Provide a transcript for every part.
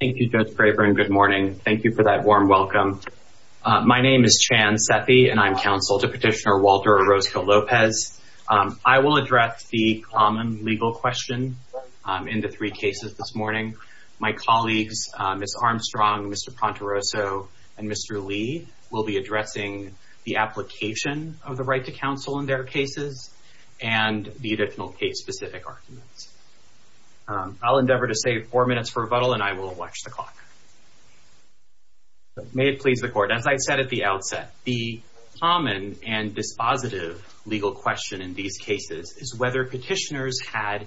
Thank you, Judge Braver, and good morning. Thank you for that warm welcome. My name is Chan Sethi, and I'm counsel to Petitioner Walter Orozco-Lopez. I will address the common legal questions in the three cases this morning. My colleagues, Ms. Armstrong, Mr. Pontaroso, and Mr. Lee, will be addressing the application of the right to counsel in their cases and the additional case-specific arguments. I'll endeavor to save four minutes for rebuttal, and I will watch the clock. May it please the Court, as I said at the outset, the common and dispositive legal question in these cases is whether petitioners had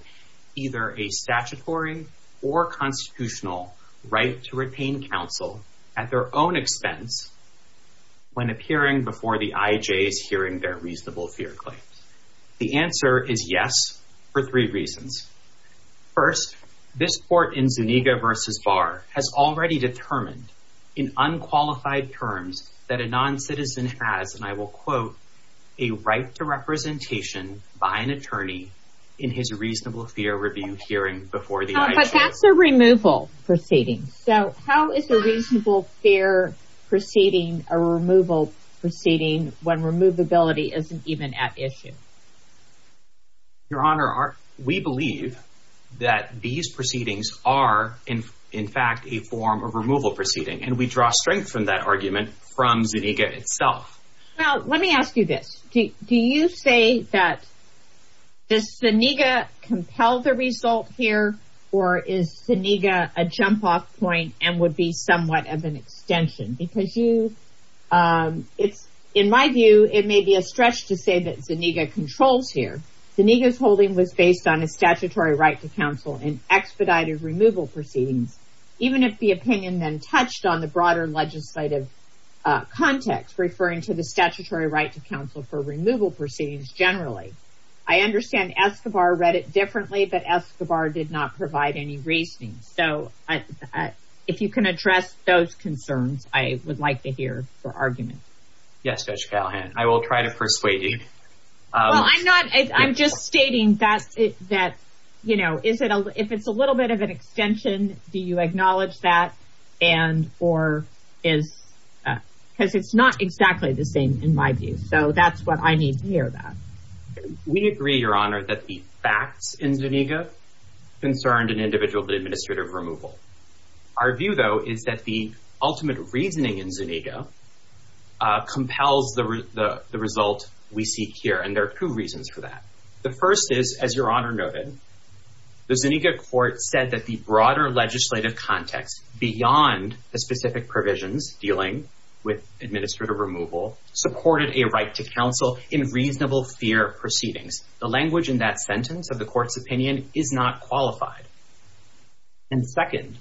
either a statutory or constitutional right to retain counsel at their own expense when appearing before the IJ hearing their reasonable fear claims. The answer is yes, for three reasons. First, this Court in Zuniga v. Barr has already determined in unqualified terms that a non-citizen has, and I will quote, a right to representation by an attorney in his reasonable fear review hearing before the IJ. But that's a removal proceeding. So how is a reasonable fear proceeding a removal proceeding when removability isn't even at issue? Your Honor, we believe that these proceedings are, in fact, a form of removal proceeding, and we draw strength from that argument from Zuniga itself. Now, let me ask you this. Do you say that does Zuniga compel the result here, or is Zuniga a jump-off point and would be somewhat of an extension? Because in my view, it may be a stretch to say that Zuniga controls here. Zuniga's holding was based on a statutory right to counsel in expedited removal proceedings, even if the opinion then touched on the broader legislative context, referring to the statutory right to counsel for removal proceedings generally. I understand Escobar read it differently, but Escobar did not provide any reasoning. So if you can address those concerns, I would like to hear the argument. Yes, Judge Callahan, I will try to persuade you. Well, I'm not, I'm just stating that, you know, if it's a little bit of an extension, do you acknowledge that, and or is, because it's not exactly the same in my view. So that's what I need to hear about. We agree, Your Honor, that the facts in Zuniga concerned an individual administrative removal. Our view, though, is that the ultimate reasoning in Zuniga compels the result we seek here, and there are two reasons for that. The first is, as Your Honor noted, the Zuniga court said that the broader legislative context beyond the specific provisions dealing with administrative removal supported a right to counsel in reasonable fear of proceedings. The language in that sentence of the court's opinion is not qualified. And second,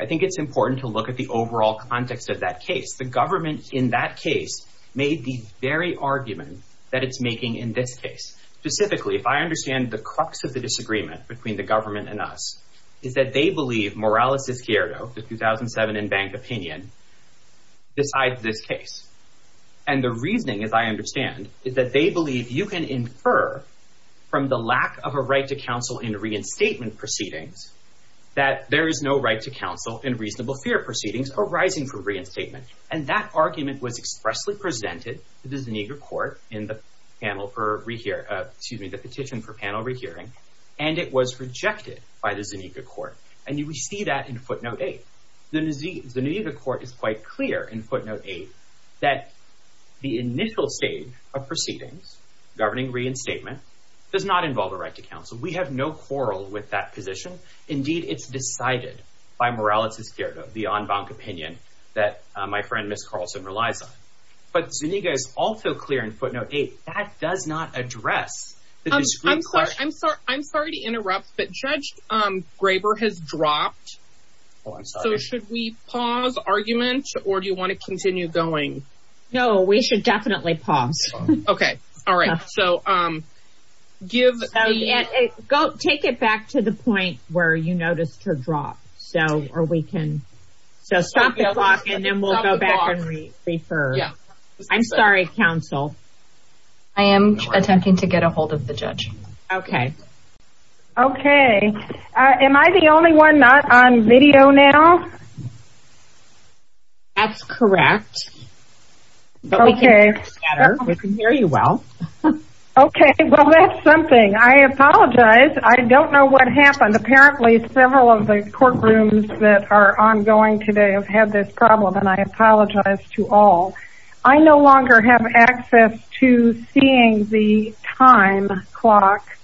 I think it's important to look at the overall context of that case. The government in that case made the very argument that it's making in this case. Specifically, if I understand the crux of the disagreement between the government and us, is that they believe Morales-DiSierdo, the 2007 in-bank opinion, decides this case. And the reasoning, as I understand, is that they believe you can infer from the lack of a right to counsel in reinstatement proceedings that there is no right to counsel in reasonable fear of proceedings arising from reinstatement. And that argument was expressly presented to the Zuniga court in the petition for panel rehearing, and it was rejected by the Zuniga court. And you see that in footnote 8. The Zuniga court is quite clear in footnote 8 that the initial stage of proceedings governing reinstatement does not involve a right to counsel. We have no quarrel with that position. Indeed, it's decided by Morales-DiSierdo, the on-bank opinion that my friend Ms. Carlson relies on. But Zuniga is also clear in footnote 8, that does not address the discreet question. I'm sorry to interrupt, but Judge Graber has dropped. So should we pause argument, or do you want to continue going? No, we should definitely pause. Okay. All right. So give... Take it back to the point where you noticed her drop. So, or we can... So stop the clock, and then we'll go back and refer. I'm sorry, counsel. I am attempting to get a hold of the judge. Okay. Okay. Am I the only one not on video now? That's correct. Okay. We can hear you well. Okay. Well, that's something. I apologize. I don't know what happened. Apparently, several of the courtrooms that are ongoing today have had this to seeing the time clock.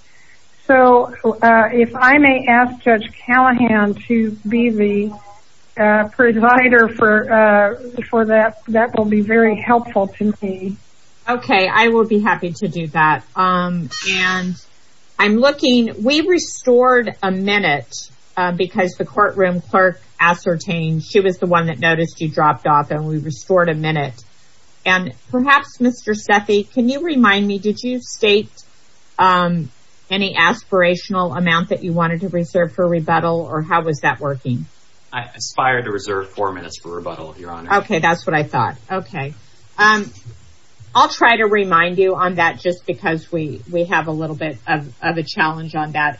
So if I may ask Judge Callahan to be the provider for that, that will be very helpful to me. Okay. I will be happy to do that. And I'm looking... We restored a minute, because the courtroom clerk ascertained she was the one that noticed you dropped off, and we restored a minute. And perhaps, Mr. Steffi, can you remind me, did you state any aspirational amount that you wanted to reserve for rebuttal, or how was that working? I aspired to reserve four minutes for rebuttal, Your Honor. Okay. That's what I thought. Okay. I'll try to remind you on that, just because we have a little bit of a challenge on that.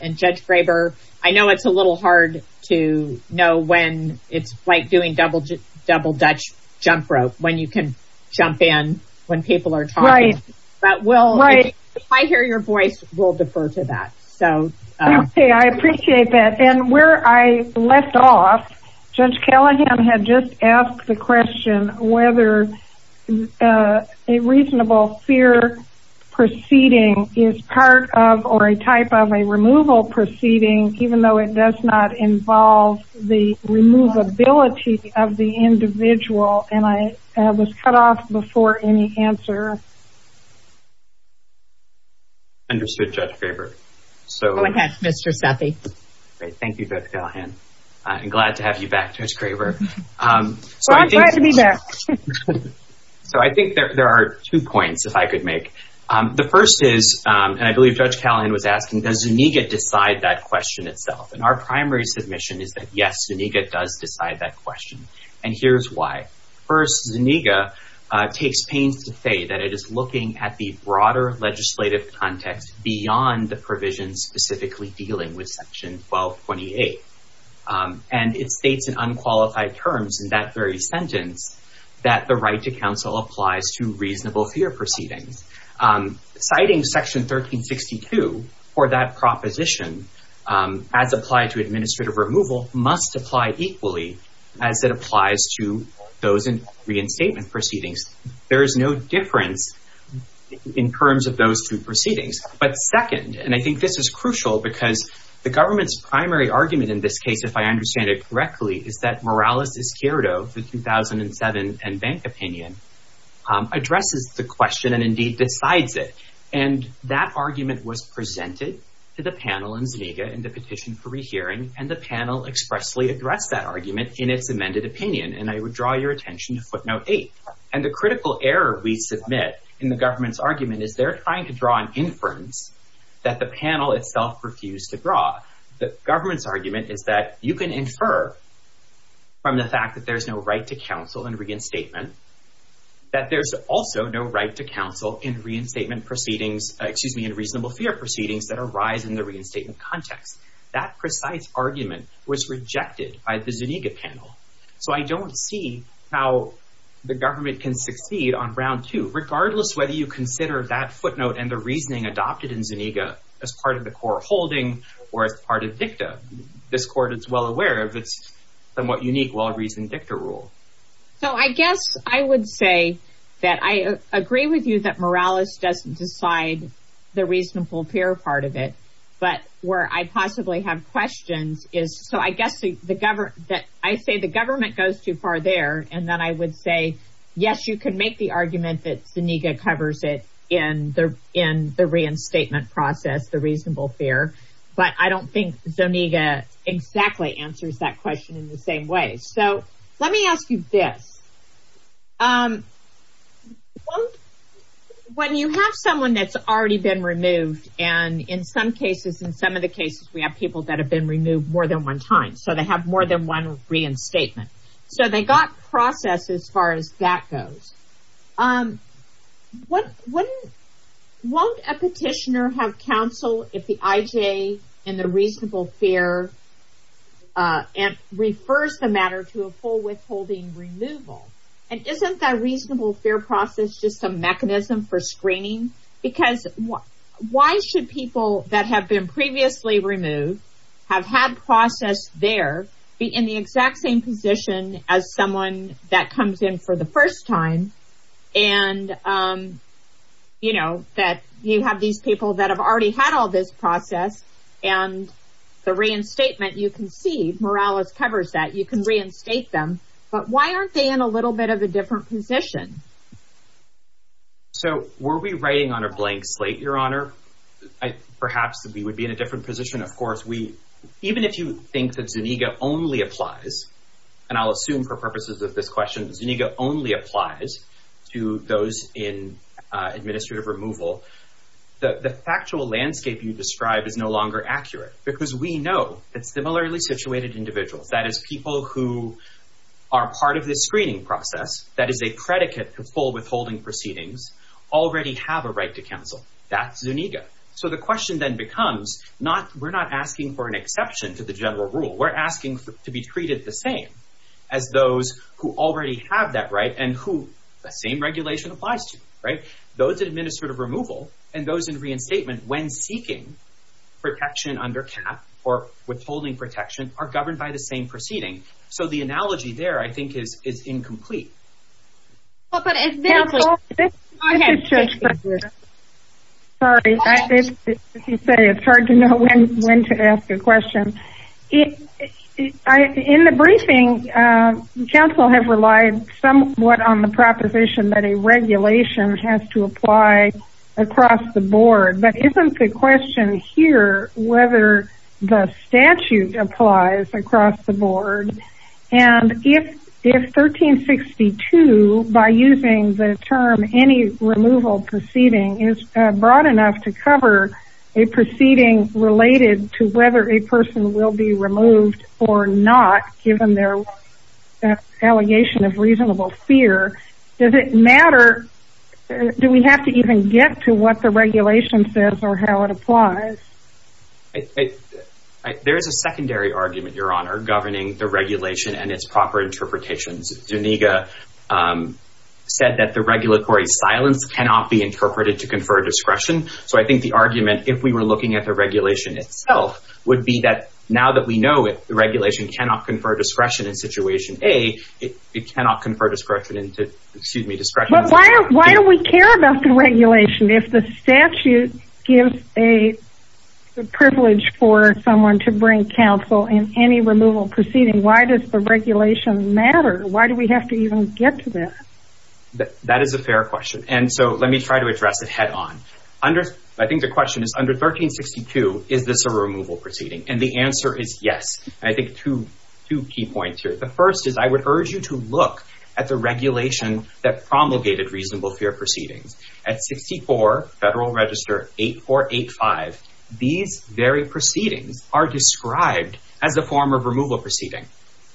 I know it's a little hard to know when it's like doing double Dutch jump rope, when you can jump in when people are talking. Right. If I hear your voice, we'll defer to that. Okay. I appreciate that. And where I left off, Judge Callahan had just asked the question whether a reasonable fear proceeding is part of or a type of a removal proceeding, even though it does not involve the removability of the individual. And I was cut off before any answer. Understood, Judge Baker. Go ahead, Mr. Steffi. Great. Thank you, Judge Callahan. I'm glad to have you back, Judge Craver. Well, I'm glad to be back. So I think there are two points that I could make. The first is, and I believe Judge Callahan was asking, does Zuniga decide that question itself? And our primary submission is that, yes, Zuniga does decide that question. And here's why. First, Zuniga takes pains to say that it is looking at the broader legislative context beyond the provision specifically dealing with Section 1228. And it states in unqualified terms in that very sentence that the right to counsel applies to reasonable fear proceedings. Citing Section 1362 for that proposition as applied to administrative removal must apply equally as it applies to those in reinstatement proceedings. There is no difference in terms of those two proceedings. But second, and I think this is crucial because the government's primary argument in this case, if I understand it correctly, is that Morales-Esquerdo, the 2007 N-Bank opinion, addresses the question and indeed decides it. And that argument was presented to the panel and Zuniga in the petition for rehearing, and the panel expressly addressed that argument in its amended opinion. And I would draw your attention to footnote eight. And the critical error we submit in the government's argument is they're trying to draw an inference that the panel itself refused to draw. The government's argument is that you can infer from the fact that there's no right to counsel in reinstatement that there's also no right to counsel in reasonable fear proceedings that arise in the reinstatement context. That precise argument was rejected by the Zuniga panel. So I don't see how the government can succeed on round two, regardless whether you consider that footnote and the reasoning adopted in Zuniga as part of the core holding or as part of DICTA. This court is well aware of this somewhat unique well-reasoned DICTA rule. So I guess I would say that I agree with you that Morales doesn't decide the reasonable fear part of it. But where I possibly have questions is, so I guess I say the government goes too far there. And then I would say, yes, you can make the argument that Zuniga covers it in the reinstatement process, the reasonable fear. But I don't think Zuniga exactly answers that question in the same way. So let me ask you this. When you have someone that's already been removed, and in some cases, in some of the cases, we have people that have been removed more than one time, so they have more than one reinstatement. So they got process as far as that goes. Won't a petitioner have counsel if the IJ in the reasonable fear refers the matter to a full withholding removal? And isn't that reasonable fear process just a mechanism for screening? Because why should people that have been previously removed, have had process there, be in the exact same position as someone that comes in for the first time? And, you know, that you have these people that have already had all this process, and the reinstatement, you can see, Morales covers that. You can reinstate them. But why aren't they in a little bit of a different position? So were we writing on a blank slate, Your Honor? Perhaps we would be in a different position. Of course, even if you think that Zuniga only applies, and I'll assume for purposes of this question that Zuniga only applies to those in administrative removal, the factual landscape you describe is no longer accurate. Because we know that similarly situated individuals, that is people who are part of the screening process, that is a predicate to full withholding proceedings, already have a right to counsel. That's Zuniga. So the question then becomes, we're not asking for an exception to the general rule. We're asking to be treated the same as those who already have that right and who that same regulation applies to, right? Those in administrative removal and those in reinstatement, when seeking protection under CAP or withholding protection, are governed by the same proceedings. So the analogy there, I think, is incomplete. Counsel, this is just for this. Sorry, as you say, it's hard to know when to ask a question. In the briefing, counsel has relied somewhat on the proposition that a regulation has to apply across the board. But isn't the question here whether the statute applies across the board? And if 1362, by using the term any removal proceeding, is broad enough to cover a proceeding related to whether a person will be removed or not, given their allegation of reasonable fear, does it matter? Do we have to even get to what the regulation says or how it applies? There is a secondary argument, Your Honor, governing the regulation and its proper interpretations. Zuniga said that the regulatory silence cannot be interpreted to confer discretion. So I think the argument, if we were looking at the regulation itself, would be that now that we know the regulation cannot confer discretion in situation A, it cannot confer discretion into, excuse me, discretion in situation B. But why do we care about the regulation if the statute gives a privilege for someone to bring counsel in any removal proceeding? Why does the regulation matter? Why do we have to even get to that? That is a fair question. And so let me try to address it head on. I think the question is, under 1362, is this a removal proceeding? And the answer is yes. I think two key points here. The first is I would urge you to look at the regulation that promulgated reasonable fear proceedings. At 64 Federal Register 8485, these very proceedings are described as a form of removal proceeding,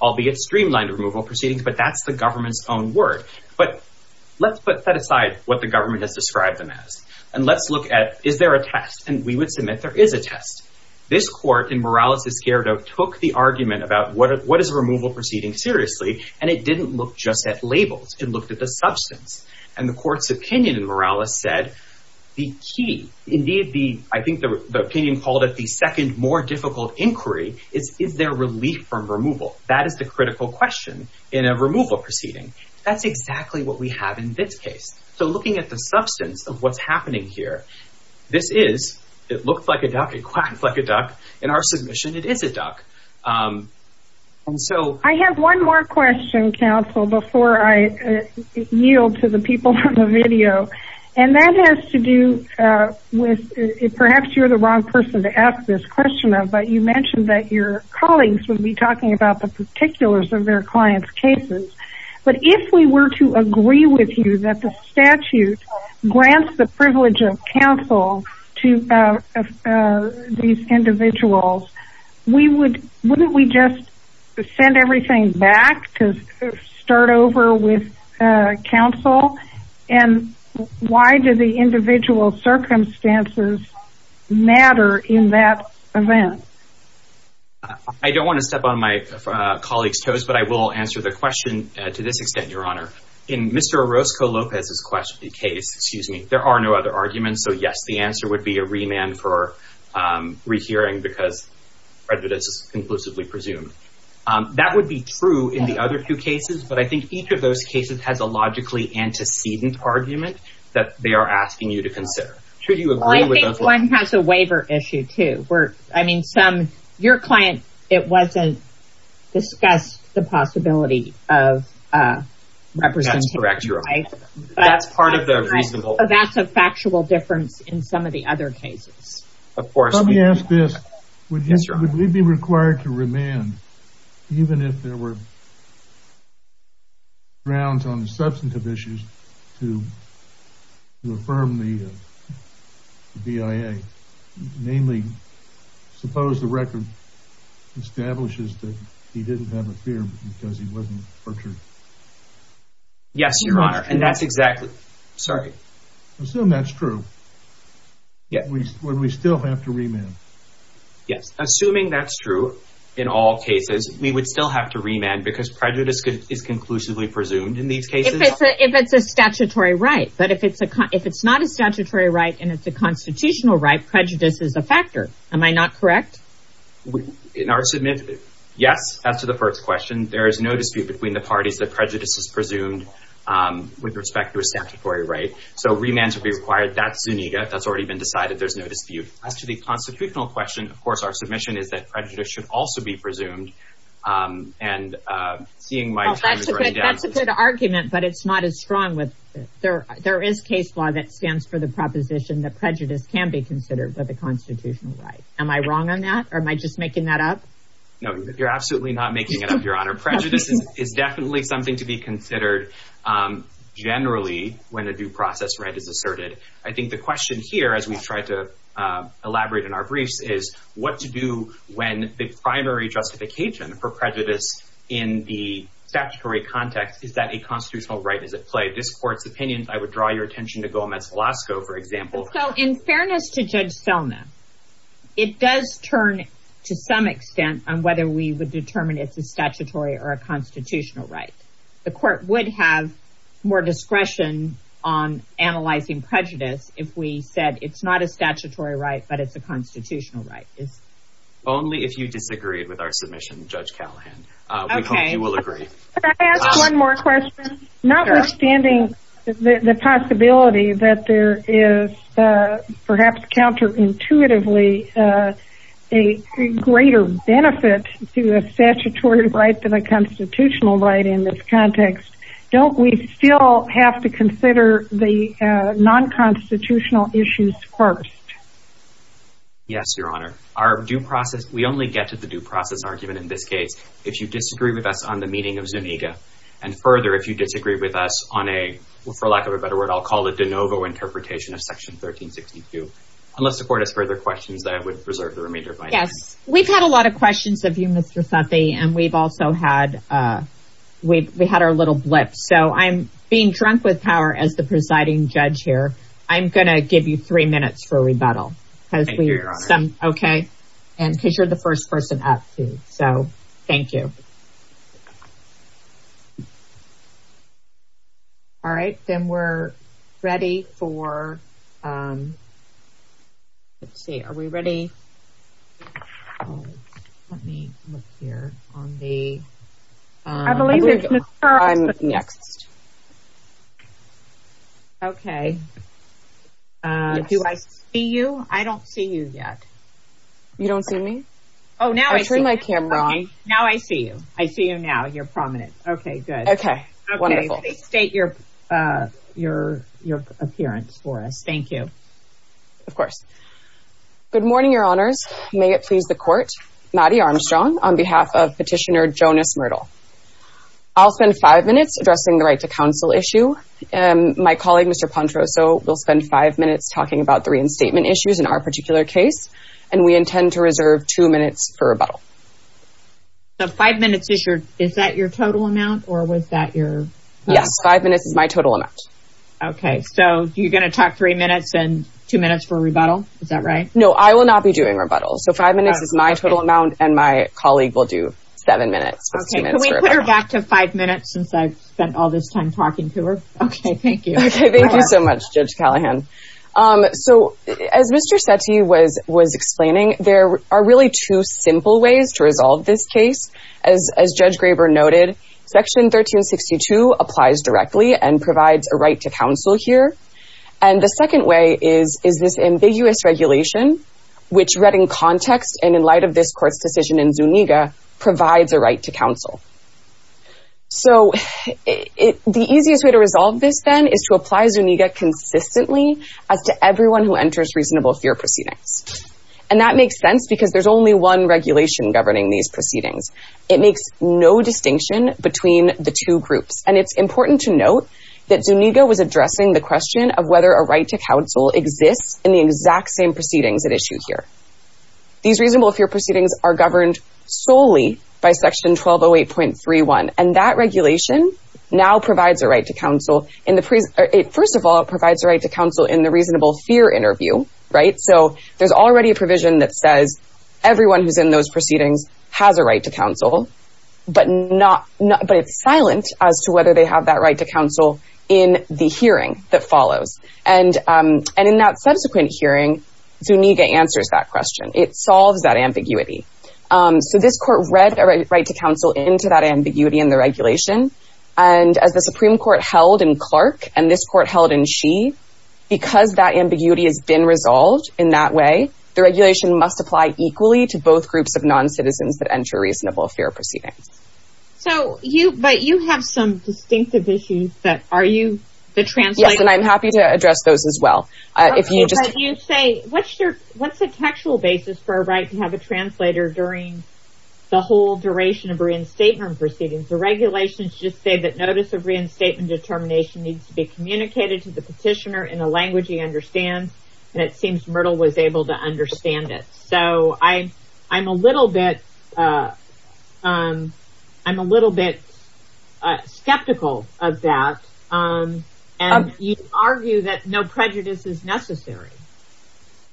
albeit streamlined removal proceedings, but that's the government's own word. But let's set aside what the government has described them as. And let's look at, is there a test? And we would submit there is a test. This Court in Morales v. Gerardo took the argument about what is a removal proceeding seriously, and it didn't look just at labels. It looked at the substance. And the Court's opinion in Morales said the key, indeed, I think the opinion called it the second more difficult inquiry is, is there relief from removal? That is the critical question in a removal proceeding. That's exactly what we have in this case. So looking at the substance of what's happening here, this is, it looks like a duck, it quacks like a duck. In our submission, it is a duck. I have one more question, counsel, before I yield to the people on the video. And that has to do with, perhaps you're the wrong person to ask this question of, but you mentioned that your colleagues would be talking about the particulars of their clients' cases. But if we were to agree with you that the statute grants the privilege of counsel to these individuals, wouldn't we just send everything back to start over with counsel? And why do the individual circumstances matter in that event? I don't want to step on my colleagues' toes, but I will answer the question to this extent, Your Honor. In Mr. Orozco-Lopez's case, there are no other arguments. So, yes, the answer would be a remand for rehearing because prejudice is conclusively presumed. That would be true in the other two cases, but I think each of those cases has a logically antecedent argument that they are asking you to consider. I think one has a waiver issue, too. I mean, your client, it wasn't discussed the possibility of representation. That's part of the reason. So that's a factual difference in some of the other cases. Let me ask this. Would he be required to remand even if there were grounds on the substantive issues to affirm the BIA? Namely, suppose the record establishes that he didn't have a fear because he wasn't tortured. Yes, Your Honor, and that's exactly it. Sorry. Assume that's true. Would we still have to remand? Yes. Assuming that's true in all cases, we would still have to remand because prejudice is conclusively presumed in these cases? If it's a statutory right. But if it's not a statutory right and it's a constitutional right, prejudice is a factor. Am I not correct? In our submission, yes, that's the first question. There is no dispute between the parties that prejudice is presumed with respect to a statutory right. So remand should be required. That's Zuniga. That's already been decided. There's no dispute. As to the constitutional question, of course, our submission is that prejudice should also be presumed. And seeing my time is running down. That's a good argument, but it's not as strong. There is case law that stands for the proposition that prejudice can be considered as a constitutional right. Am I wrong on that or am I just making that up? No, you're absolutely not making it up, Your Honor. Prejudice is definitely something to be considered generally when a due process right is asserted. I think the question here, as we try to elaborate in our briefs, is what to do when the primary justification for prejudice in the statutory context is that a constitutional right is at play. This Court's opinion, I would draw your attention to Gomez-Velasco, for example. So in fairness to Judge Thelma, it does turn to some extent on whether we would determine if it's a statutory or a constitutional right. The Court would have more discretion on analyzing prejudice if we said it's not a statutory right but it's a constitutional right. Only if you disagree with our submission, Judge Callahan. Okay. We hope you will agree. Can I ask one more question? Sure. Notwithstanding the possibility that there is perhaps counterintuitively a greater benefit to a statutory right than a constitutional right in this context, don't we still have to consider the non-constitutional issues first? Yes, Your Honor. We only get to the due process argument in this case if you disagree with us on the meeting of Zuniga. And further, if you disagree with us on a, for lack of a better word, I'll call it de novo interpretation of Section 1362. Unless the Court has further questions, I would reserve the remainder of my time. Yes. We've had a lot of questions of you, Mr. Fethi, and we've also had our little blip. So I'm being drunk with power as the presiding judge here. I'm going to give you three minutes for rebuttal. Thank you, Your Honor. Okay. And because you're the first person up, too. So thank you. All right. Then we're ready for, let's see. Are we ready? Let me look here on the. I believe there's Mr. I'm next. Okay. Do I see you? I don't see you yet. You don't see me? Oh, now I see you. I turned my camera on. Now I see you. I see you now. You're prominent. Okay, good. Okay. Wonderful. Okay. State your appearance for us. Thank you. Of course. Good morning, Your Honors. May it please the Court. Maddie Armstrong on behalf of Petitioner Jonas Myrtle. I'll spend five minutes addressing the right to counsel issue. My colleague, Mr. Pontroso, will spend five minutes talking about the reinstatement issues in our particular case. And we intend to reserve two minutes for rebuttal. So five minutes is your, is that your total amount? Or was that your. Yeah. Five minutes is my total amount. Okay. So you're going to talk three minutes and two minutes for rebuttal? Is that right? No, I will not be doing rebuttal. So five minutes is my total amount and my colleague will do seven minutes. Okay. Can we put her back to five minutes since I've spent all this time talking to her? Okay. Thank you. Thank you so much, Judge Callahan. So as Mr. Sethi was explaining, there are really two simple ways to resolve this case. As Judge Graber noted, Section 1362 applies directly and provides a right to counsel here. And the second way is this ambiguous regulation, which read in context and in light of this court's decision in Zuniga, provides a right to counsel. So the easiest way to resolve this then is to apply Zuniga consistently as to everyone who enters reasonable fear proceedings. And that makes sense because there's only one regulation governing these proceedings. It makes no distinction between the two groups. And it's important to note that Zuniga was addressing the question of whether a right to counsel exists in the exact same proceedings at issue here. These reasonable fear proceedings are governed solely by Section 1208.31. And that regulation now provides a right to counsel. First of all, it provides a right to counsel in the reasonable fear interview, right? So there's already a provision that says everyone who's in those proceedings has a right to counsel, but it's silent as to whether they have that right to counsel in the hearing that follows. And in that subsequent hearing, Zuniga answers that question. It solves that ambiguity. So this court read a right to counsel into that ambiguity in the regulation. And as the Supreme Court held in Clark and this court held in Shea, because that ambiguity has been resolved in that way, the regulation must apply equally to both groups of non-citizens that enter reasonable fear proceedings. So you, but you have some distinctive issues that are you the translator? And I'm happy to address those as well. You say, what's your, what's the textual basis for a right to have a translator during the whole duration of reinstatement proceedings? The regulations just say that notice of reinstatement determination needs to be communicated to the petitioner in a language he understands. And it seems Myrtle was able to understand it. So I, I'm a little bit, I'm a little bit skeptical of that. And you argue that no prejudice is necessary.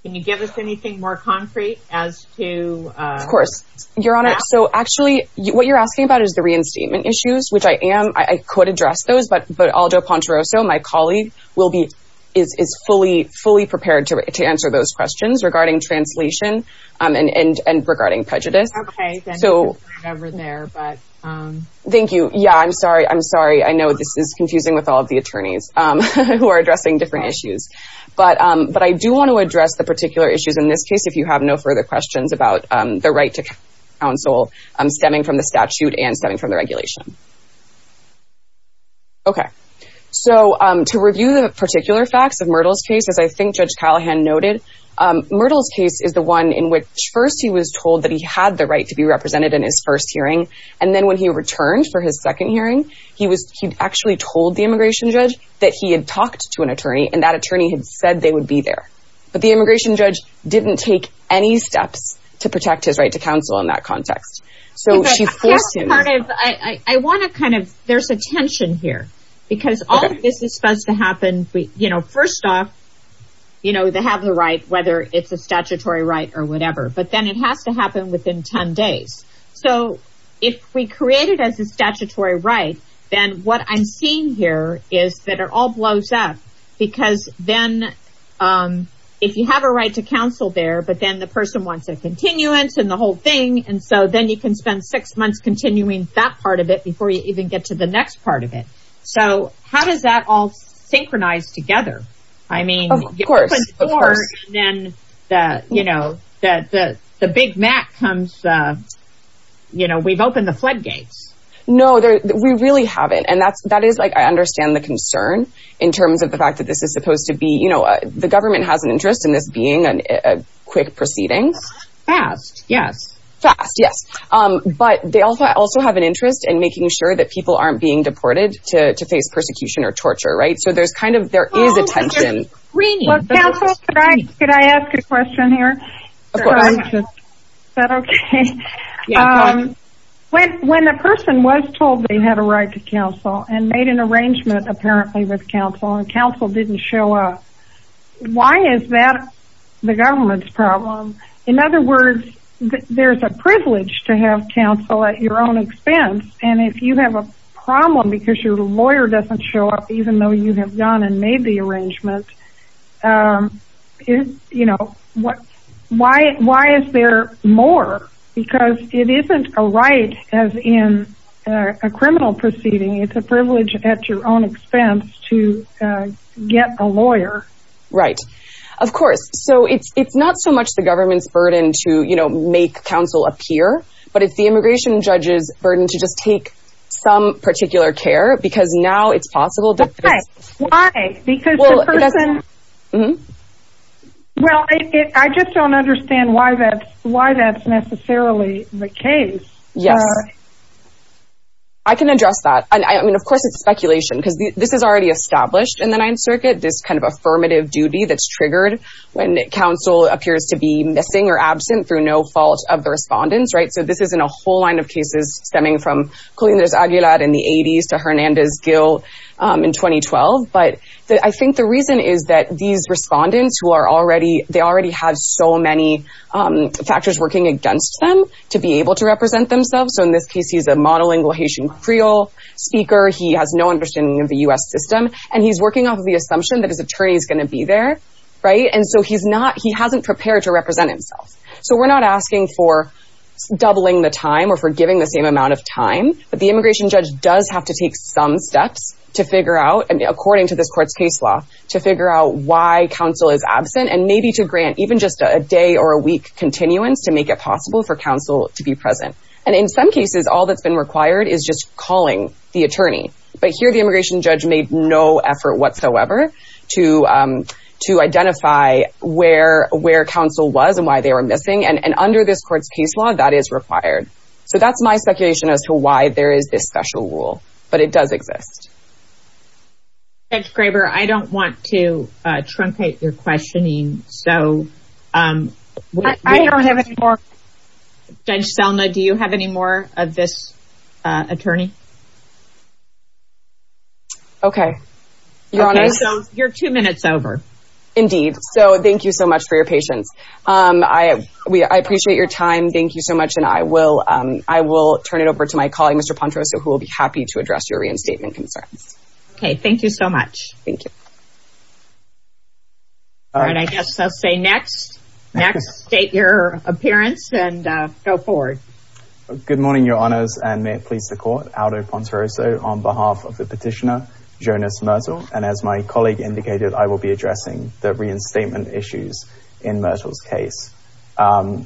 Can you give us anything more concrete as to? Of course. Your Honor, so actually what you're asking about is the reinstatement issues, which I am, I could address those, but, but Aldo Pontaroso, my colleague will be, is, is fully, fully prepared to answer those questions regarding translation and, and, and regarding prejudice. Okay. Thank you. Yeah, I'm sorry. I'm sorry. I know this is confusing with all of the attorneys who are addressing different issues. But, but I do want to address the particular issues in this case, if you have no further questions about the right to counsel stemming from the statute and stemming from the regulations. Okay. So to review the particular facts of Myrtle's case, as I think Judge Callahan noted, Myrtle's case is the one in which first he was told that he had the right to be represented in his first hearing. And then when he returned for his second hearing, he was, he actually told the immigration judge that he had talked to an attorney and that attorney had said they would be there. But the immigration judge didn't take any steps to protect his right to counsel in that context. So she forced him. I want to kind of, there's a tension here because all of this is supposed to happen, you know, first off, you know, they have the right, whether it's a statutory right or whatever, but then it has to happen within 10 days. So if we create it as a statutory right, then what I'm seeing here is that it all blows up because then if you have a right to counsel there, but then the person wants a continuance and the whole thing, and so then you can spend six months continuing that part of it before you even get to the next part of it. So how does that all synchronize together? I mean, then the, you know, the, the, the big Mac comes, you know, we've opened the floodgates. No, we really haven't. And that's, that is like, I understand the concern in terms of the fact that this is supposed to be, you know, the government has an interest in this being a quick proceeding. Yeah. Yeah. But they also, I also have an interest in making sure that people aren't being deported to face persecution or torture. Right. So there's kind of, there is a tension. Counsel, could I, could I ask a question here? Of course. Is that okay? Yeah. When a person was told they had a right to counsel and made an arrangement apparently with counsel and counsel didn't show up, why is that the government's problem? In other words, there's a privilege to have counsel at your own expense. And if you have a problem because your lawyer doesn't show up, even though you have gone and made the arrangement is, you know, what, why, why is there more? Because it isn't a right as in a criminal proceeding. It's a privilege at your own expense to get a lawyer. Right. Of course. So it's, it's not so much the government's burden to, you know, make counsel appear, but it's the immigration judge's burden to just take some particular care because now it's possible. Why? Because the person, well, I just don't understand why that's, why that's necessarily the case. Yeah. I can address that. And I mean, of course it's speculation because this is already established in the ninth circuit, this kind of affirmative duty that's triggered when counsel appears to be missing or absent through no fault of the respondents. Right. So this isn't a whole line of cases stemming from Aguilar in the 80s to Hernandez Gill in 2012. But I think the reason is that these respondents who are already, they already had so many factors working against them to be able to represent themselves. So in this case, he's a monolingual Haitian Creole speaker. He has no understanding of the U.S. system. And he's working on the assumption that his attorney is going to be there. Right. And so he's not, he hasn't prepared to represent himself. So we're not asking for doubling the time or for giving the same amount of time. But the immigration judge does have to take some steps to figure out, according to this court's case law, to figure out why counsel is absent and maybe to grant even just a day or a week continuance to make it possible for counsel to be present. And in some cases, all that's been required is just calling the attorney. But here, the immigration judge made no effort whatsoever to identify where counsel was and why they were missing. And under this court's case law, that is required. So that's my speculation as to why there is this special rule. But it does exist. Judge Graber, I don't want to truncate your questioning. I don't have any more. Judge Stelma, do you have any more of this attorney? Okay. You're two minutes over. Indeed. So thank you so much for your patience. I appreciate your time. Thank you so much. And I will turn it over to my colleague, Mr. Pontrosa, who will be happy to address your reinstatement concerns. Okay. Thank you so much. Thank you. And I guess I'll say next. Next, state your appearance and go forward. Good morning, Your Honors, and may it please the Court. Aldo Pontrosa on behalf of the petitioner, Jonas Myrtle. And as my colleague indicated, I will be addressing the reinstatement issues in Myrtle's case. I'll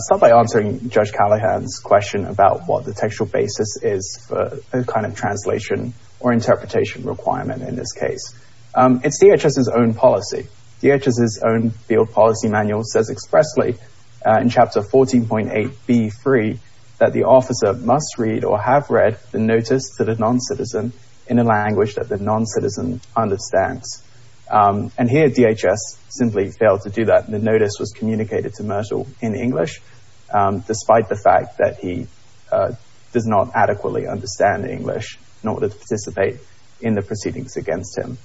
start by answering Judge Callahan's question about what the textual basis is for this kind of translation or interpretation requirement in this case. It's DHS's own policy. DHS's own field policy manual says expressly in Chapter 14.8b3 that the officer must read or have read the notice to the noncitizen in a language that the noncitizen understands. And here, DHS simply failed to do that. The notice was communicated to Myrtle in English, despite the fact that he did not adequately understand English in order to participate in the proceedings against him.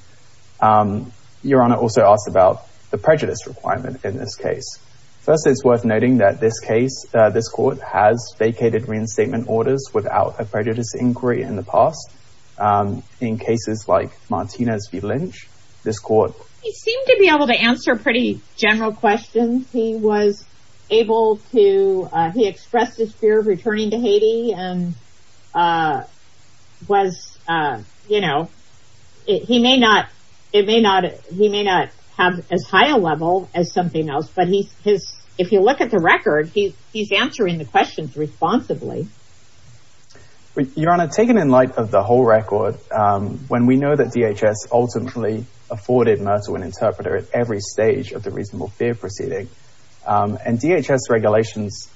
Your Honor also asked about the prejudice requirement in this case. First, it's worth noting that this case, this Court, has vacated reinstatement orders without a prejudice inquiry in the past. In cases like Martinez v. Lynch, this Court. He seemed to be able to answer pretty general questions. He was able to, he expressed his fear of returning to Haiti and was, you know, he may not have as high a level as something else, but if you look at the record, he's answering the questions responsibly. Your Honor, taking in light of the whole record, when we know that DHS ultimately afforded Myrtle an interpreter at every stage of the reasonable fear proceeding. And DHS regulations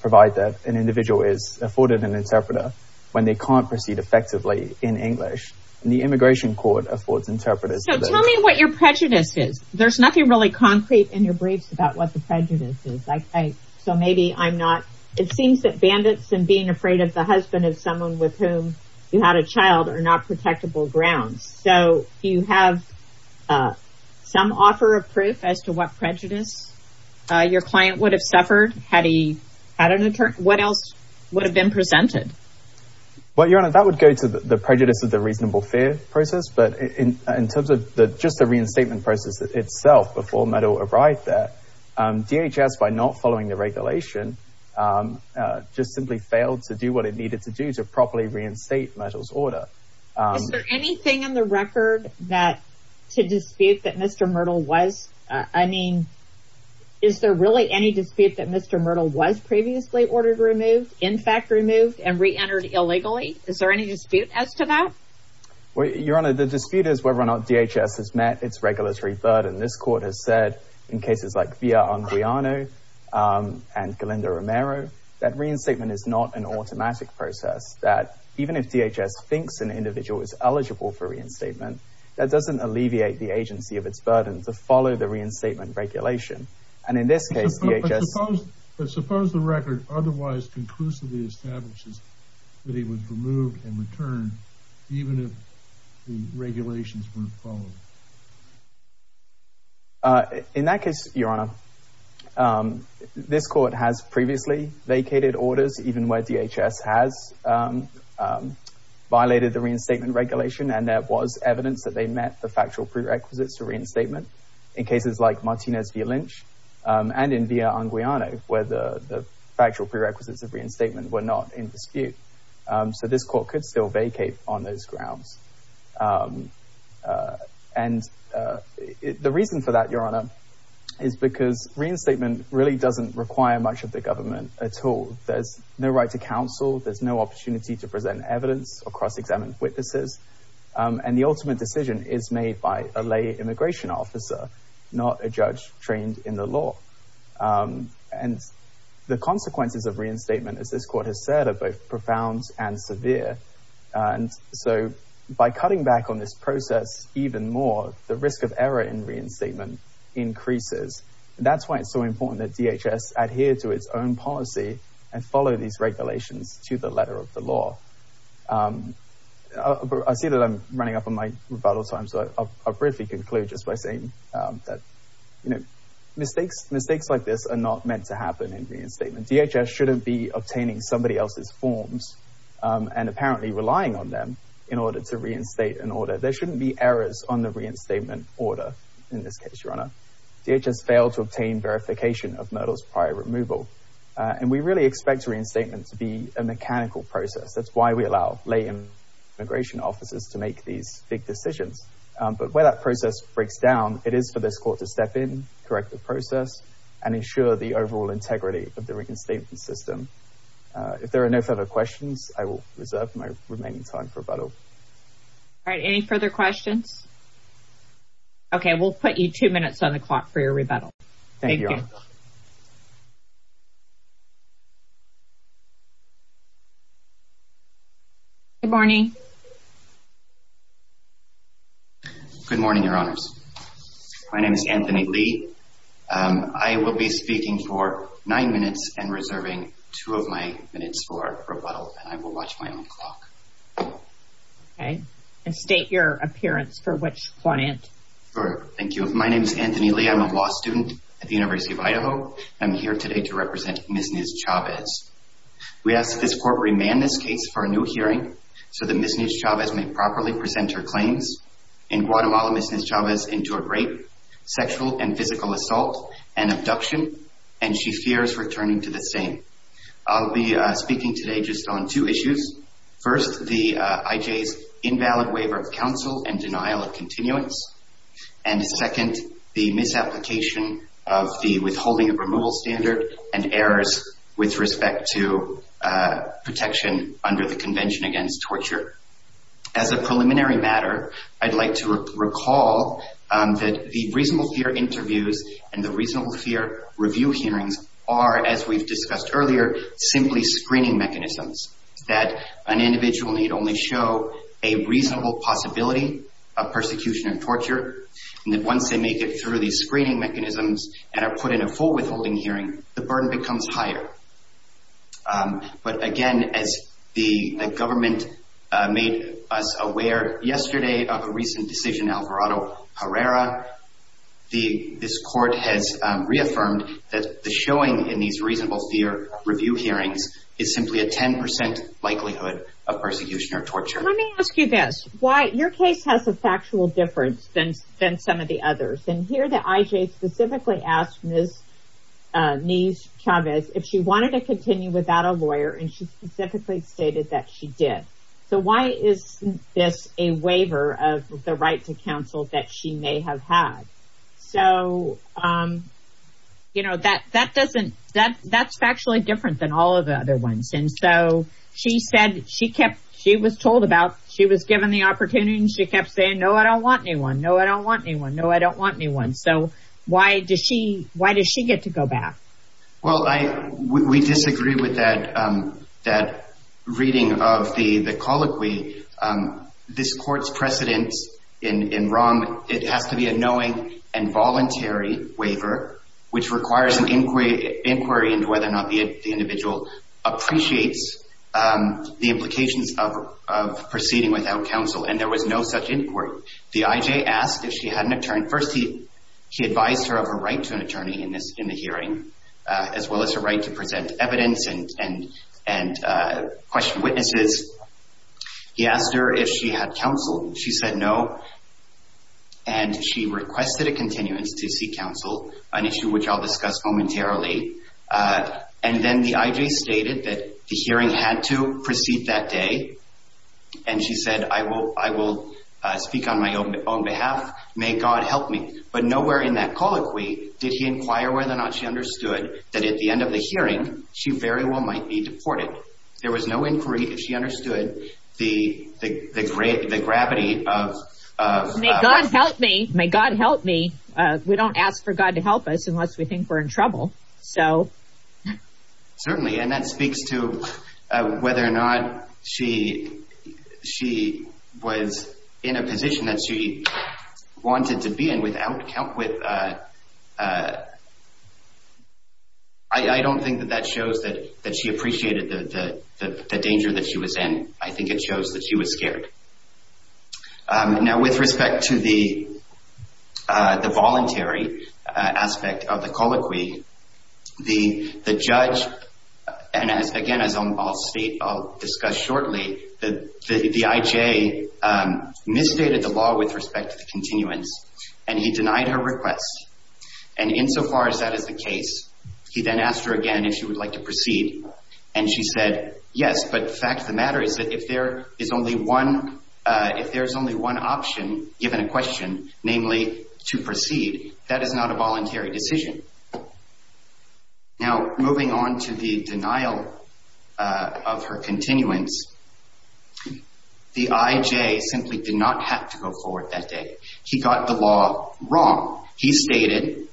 provide that an individual is afforded an interpreter when they can't proceed effectively in English. And the Immigration Court affords interpreters. So tell me what your prejudice is. There's nothing really concrete in your brief about what the prejudice is. So maybe I'm not, it seems that bandits and being afraid of the husband of someone with whom you had a child are not protectable grounds. So do you have some offer of proof as to what prejudice your client would have suffered had he had an interpreter? What else would have been presented? Well, Your Honor, that would go to the prejudice of the reasonable fear process. But in terms of just the reinstatement process itself before Myrtle arrived there, DHS, by not following the regulation, just simply failed to do what it needed to do to properly reinstate Myrtle's order. Is there anything in the record to dispute that Mr. Myrtle was, I mean, is there really any dispute that Mr. Myrtle was previously ordered removed, in fact removed, and reentered illegally? Is there any dispute as to that? Well, Your Honor, the dispute is whether or not DHS has met its regulatory burden. This court has said in cases like Villa-Andreano and Galindo-Romero that reinstatement is not an automatic process. That even if DHS thinks an individual is eligible for reinstatement, that doesn't alleviate the agency of its burden to follow the reinstatement regulation. But suppose the record otherwise conclusively establishes that he was removed and returned even if the regulations weren't followed? In that case, Your Honor, this court has previously vacated orders even where DHS has violated the reinstatement regulation and there was evidence that they met the factual prerequisites for reinstatement in cases like Martinez-de-Lynch and in Villa-Andreano where the factual prerequisites of reinstatement were not in dispute. So this court could still vacate on those grounds. And the reason for that, Your Honor, is because reinstatement really doesn't require much of the government at all. There's no right to counsel. There's no opportunity to present evidence or cross-examine witnesses. And the ultimate decision is made by a lay immigration officer, not a judge trained in the law. And the consequences of reinstatement, as this court has said, are both profound and severe. And so by cutting back on this process even more, the risk of error in reinstatement increases. That's why it's so important that DHS adheres to its own policy and follow these regulations to the letter of the law. I see that I'm running up on my rebuttal time, so I'll briefly conclude just by saying that mistakes like this are not meant to happen in reinstatement. DHS shouldn't be obtaining somebody else's forms and apparently relying on them in order to reinstate an order. There shouldn't be errors on the reinstatement order in this case, Your Honor. DHS failed to obtain verification of Murdoch's prior removal. And we really expect reinstatement to be a mechanical process. That's why we allow lay immigration officers to make these big decisions. But where that process breaks down, it is for this court to step in, correct the process, and ensure the overall integrity of the reinstatement system. If there are no further questions, I will reserve my remaining time for rebuttal. All right. Any further questions? OK, we'll put you two minutes on the clock for your rebuttal. Thank you. Good morning. Good morning, Your Honor. My name is Anthony Lee. I will be speaking for nine minutes and reserving two of my minutes for rebuttal. I will watch my own clock. And state your appearance for which client. Thank you. My name is Anthony Lee. I'm a law student at the University of Idaho. I'm here today to represent Ms. Nez Chavez. We ask that this court remand this case for a new hearing so that Ms. Nez Chavez may properly present her claims. In Guatemala, Ms. Nez Chavez endured rape, sexual and physical assault, and abduction, and she fears returning to the scene. I'll be speaking today just on two issues. First, the IJ's invalid waiver of counsel and denial of continuance. And second, the misapplication of the withholding of removal standard and errors with respect to protection under the Convention Against Torture. As a preliminary matter, I'd like to recall that the reasonable fear interviews and the reasonable fear review hearings are, as we've discussed earlier, simply screening mechanisms, that an individual may only show a reasonable possibility of persecution and torture, and that once they make it through these screening mechanisms and are put in a full withholding hearing, the burden becomes higher. But again, as the government made us aware yesterday of a recent decision in Alvarado Herrera, this court has reaffirmed that the showing in these reasonable fear review hearings is simply a 10% likelihood of persecution or torture. Let me ask you this. Your case has a factual difference than some of the others. And here the IJ specifically asked Ms. Nez Chavez if she wanted to continue without a lawyer, and she specifically stated that she did. So why is this a waiver of the right to counsel that she may have had? So, you know, that's factually different than all of the other ones. And so she said she was told about, she was given the opportunity, and she kept saying, no, I don't want anyone. No, I don't want anyone. No, I don't want anyone. So why does she get to go back? Well, we disagree with that reading of the colloquy. This court's precedent in wrong, it has to be a knowing and voluntary waiver, which requires an inquiry into whether or not the individual appreciates the implications of proceeding without counsel. And there was no such inquiry. The IJ asked if she had an attorney. First, he advised her of her right to an attorney in the hearing, as well as her right to present evidence and question witnesses. He asked her if she had counsel. She said no, and she requested a continuance to seek counsel, an issue which I'll discuss momentarily. And then the IJ stated that the hearing had to proceed that day. And she said, I will speak on my own behalf. May God help me. But nowhere in that colloquy did she imply whether or not she understood that at the end of the hearing, she very well might be deported. There was no inquiry if she understood the gravity of... May God help me. May God help me. We don't ask for God to help us unless we think we're in trouble. Certainly, and that speaks to whether or not she was in a position that she wanted to be in without help with... I don't think that that shows that she appreciated the danger that she was in. I think it shows that she was scared. Now, with respect to the voluntary aspect of the colloquy, the judge, and again, as I'll discuss shortly, the IJ misstated the law with respect to continuance, and he denied her request. And insofar as that is the case, he then asked her again if she would like to proceed. And she said, yes, but the fact of the matter is that if there is only one option given a question, namely to proceed, that is not a voluntary decision. Now, moving on to the denial of her continuance, the IJ simply did not have to go forward that day. He got the law wrong. He stated,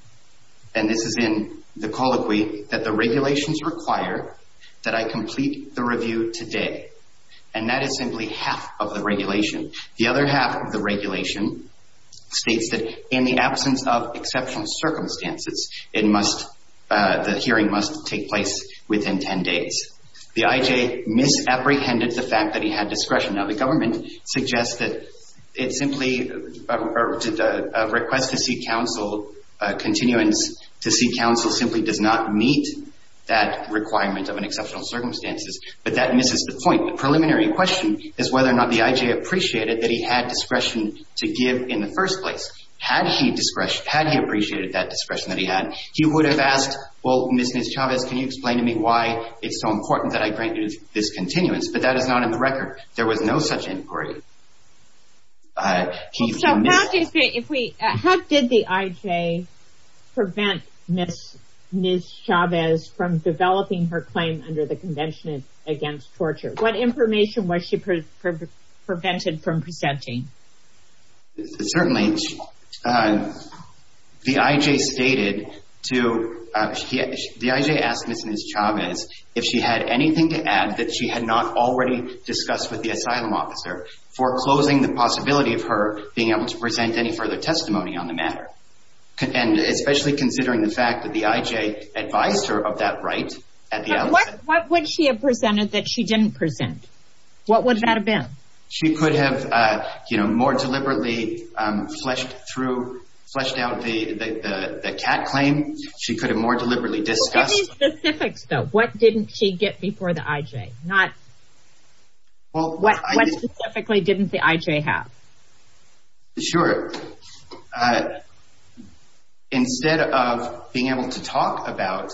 and this is in the colloquy, that the regulations require that I complete the review today, and that is simply half of the regulation. The other half of the regulation states that in the absence of exceptional circumstances, the hearing must take place within 10 days. The IJ misapprehended the fact that he had discretion. Now, the government suggests that a request to seek counsel, continuance to seek counsel, simply does not meet that requirement of an exceptional circumstances, but that misses the point. The preliminary question is whether or not the IJ appreciated that he had discretion to give in the first place. Had he appreciated that discretion that he had, he would have asked, well, Ms. Chavez, can you explain to me why it's so important that I grant you this continuance? But that is not in the record. There was no such inquiry. How did the IJ prevent Ms. Chavez from developing her claim under the Convention Against Torture? What information was she prevented from presenting? Certainly, the IJ stated to, the IJ asked Ms. Chavez if she had anything to add that she had not already discussed with the asylum officer foreclosing the possibility of her being able to present any further testimony on the matter, especially considering the fact that the IJ advised her of that right. What would she have presented that she didn't present? What would that have been? She could have, you know, more deliberately flushed through, flushed out the CAT claim. She could have more deliberately discussed. Give me specifics, though. What didn't she get before the IJ? Not, well, what specifically didn't the IJ have? Sure. Sure. Instead of being able to talk about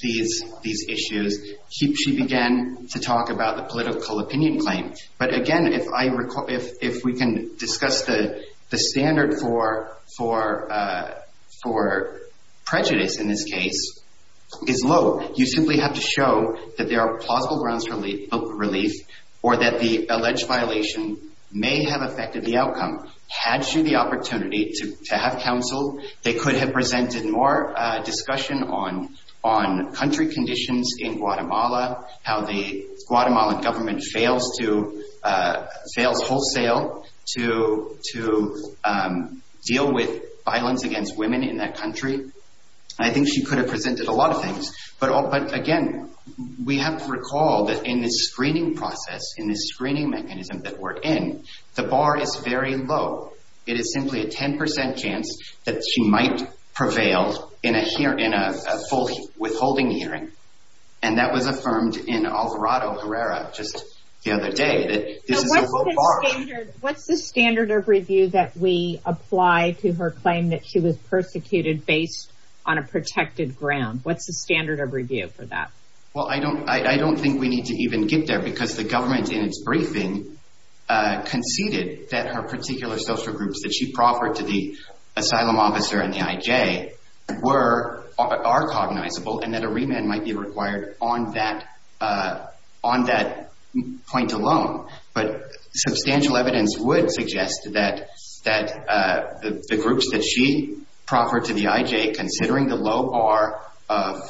these issues, she began to talk about the political opinion claim. But, again, if I recall, if we can discuss the standard for prejudice in this case is low. You simply have to show that there are plausible grounds for relief or that the alleged violation may have affected the outcome. Had she the opportunity to have counsel, they could have presented more discussion on country conditions in Guatemala, how the Guatemalan government fails to, fails wholesale to deal with violence against women in that country. I think she could have presented a lot of things. But, again, we have to recall that in this screening process, in this screening mechanism that we're in, the bar is very low. It is simply a 10% chance that she might prevail in a hearing, in a withholding hearing. And that was affirmed in Alvarado Herrera just the other day. What's the standard of review that we apply to her claim that she was persecuted based on a protected ground? What's the standard of review for that? Well, I don't think we need to even get there because the government, in its briefing, conceded that her particular social groups that she proffered to the asylum officer and the IJ are cognizable and that a remand might be required on that point alone. But substantial evidence would suggest that the groups that she proffered to the IJ, considering the low bar of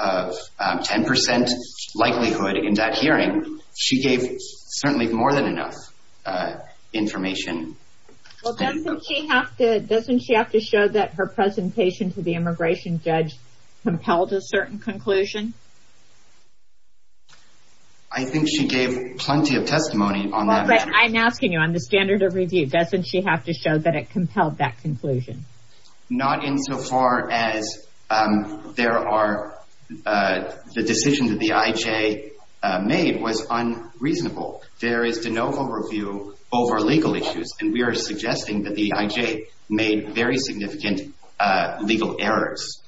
10% likelihood in that hearing, she gave certainly more than enough information. Well, doesn't she have to show that her presentation to the immigration judge compelled a certain conclusion? I think she gave plenty of testimony on that. I'm asking you, on the standard of review, doesn't she have to show that it compelled that conclusion? Not insofar as there are, the decision that the IJ made was unreasonable. There is no overview over legal issues, and we are suggesting that the IJ made very significant legal errors.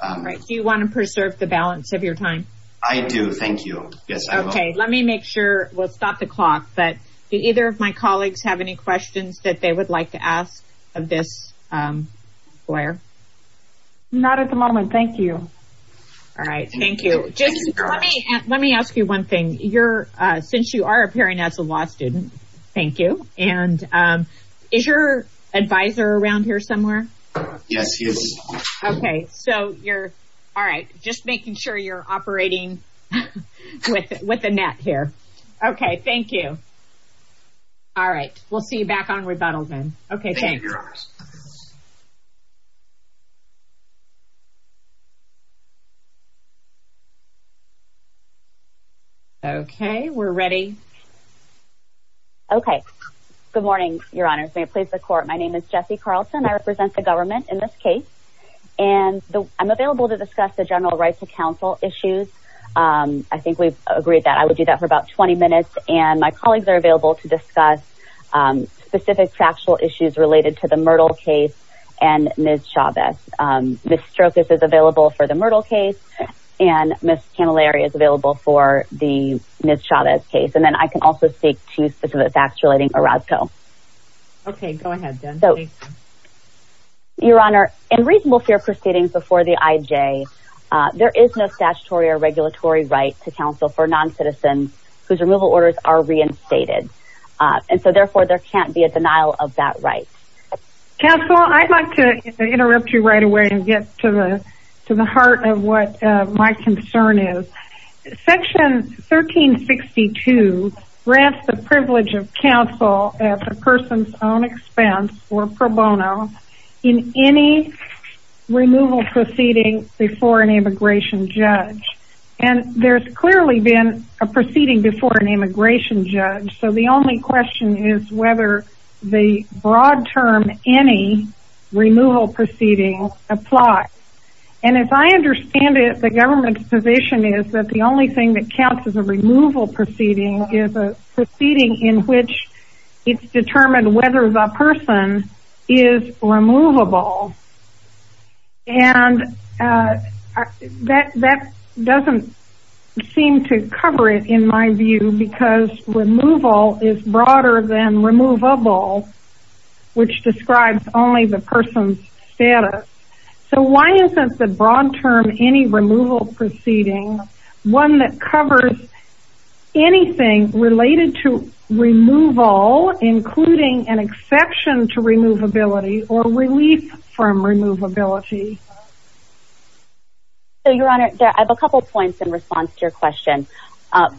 Do you want to preserve the balance of your time? I do, thank you. Okay, let me make sure, we'll stop the clock, but do either of my colleagues have any questions that they would like to ask of this lawyer? Not at the moment, thank you. All right, thank you. Let me ask you one thing. Since you are appearing as a law student, thank you, and is your advisor around here somewhere? Yes, she is. Okay, so you're, all right, just making sure you're operating with a net here. Okay, thank you. All right, we'll see you back on rebuttal then. Okay, thanks. Okay, we're ready. Okay, good morning, your honors. May it please the court, my name is Jessie Carlton. I represent the government in this case, and I'm available to discuss the general rights of counsel issues. I think we've agreed that I would do that for about 20 minutes, and my colleagues are available to discuss specific factual issues related to the Myrtle case and Ms. Chavez. Ms. Strokis is available for the Myrtle case, and Ms. Camilleri is available for the Ms. Chavez case. And then I can also speak to specific facts relating to Orozco. Okay, go ahead, then. So, your honor, in reasonable fair proceedings before the IJ, there is no statutory or regulatory right to counsel for noncitizens whose removal orders are reinstated. And so, therefore, there can't be a denial of that right. Counsel, I'd like to interrupt you right away and get to the heart of what my concern is. Section 1362 grants the privilege of counsel at the person's own expense or pro bono in any removal proceeding before an immigration judge. And there's clearly been a proceeding before an immigration judge. So, the only question is whether the broad term any removal proceeding applies. And as I understand it, the government's position is that the only thing that counts as a removal proceeding is a proceeding in which it's determined whether the person is removable. And that doesn't seem to cover it, in my view, because removal is broader than removable, which describes only the person's status. So, why isn't the broad term any removal proceeding one that covers anything related to removal, including an exception to removability or relief from removability? So, your honor, I have a couple points in response to your question.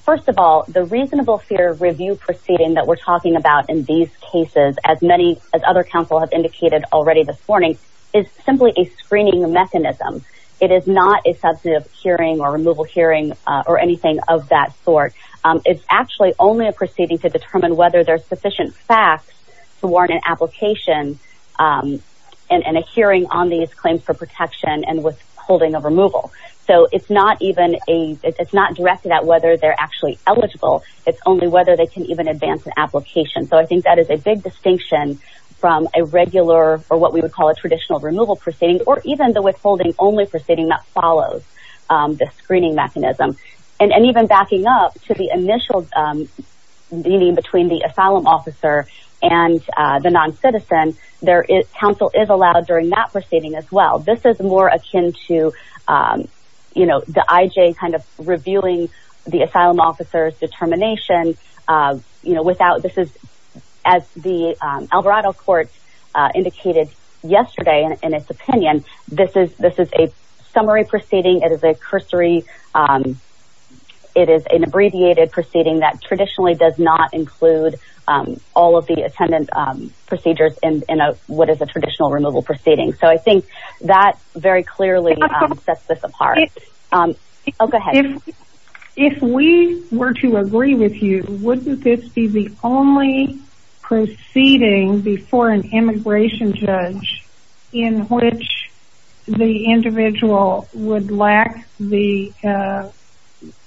First of all, the reasonable fear review proceeding that we're talking about in these cases, as other counsel have indicated already this morning, is simply a screening mechanism. It is not a substantive hearing or removal hearing or anything of that sort. It's actually only a proceeding to determine whether there's sufficient facts to warrant an application and a hearing on these claims for protection and withholding of removal. So, it's not directed at whether they're actually eligible. It's only whether they can even advance an application. So, I think that is a big distinction from a regular or what we would call a traditional removal proceeding or even the withholding only proceeding that follows the screening mechanism. And even backing up to the initial meeting between the asylum officer and the noncitizen, counsel is allowed during that proceeding as well. This is more akin to, you know, the IJ kind of reviewing the asylum officer's determination, you know, without this is as the Alvarado court indicated yesterday in its opinion. This is a summary proceeding. It is a cursory. It is an abbreviated proceeding that traditionally does not include all of the attendant procedures in what is a traditional removal proceeding. So, I think that very clearly sets this apart. Oh, go ahead. If we were to agree with you, wouldn't this be the only proceeding before an immigration judge in which the individual would lack the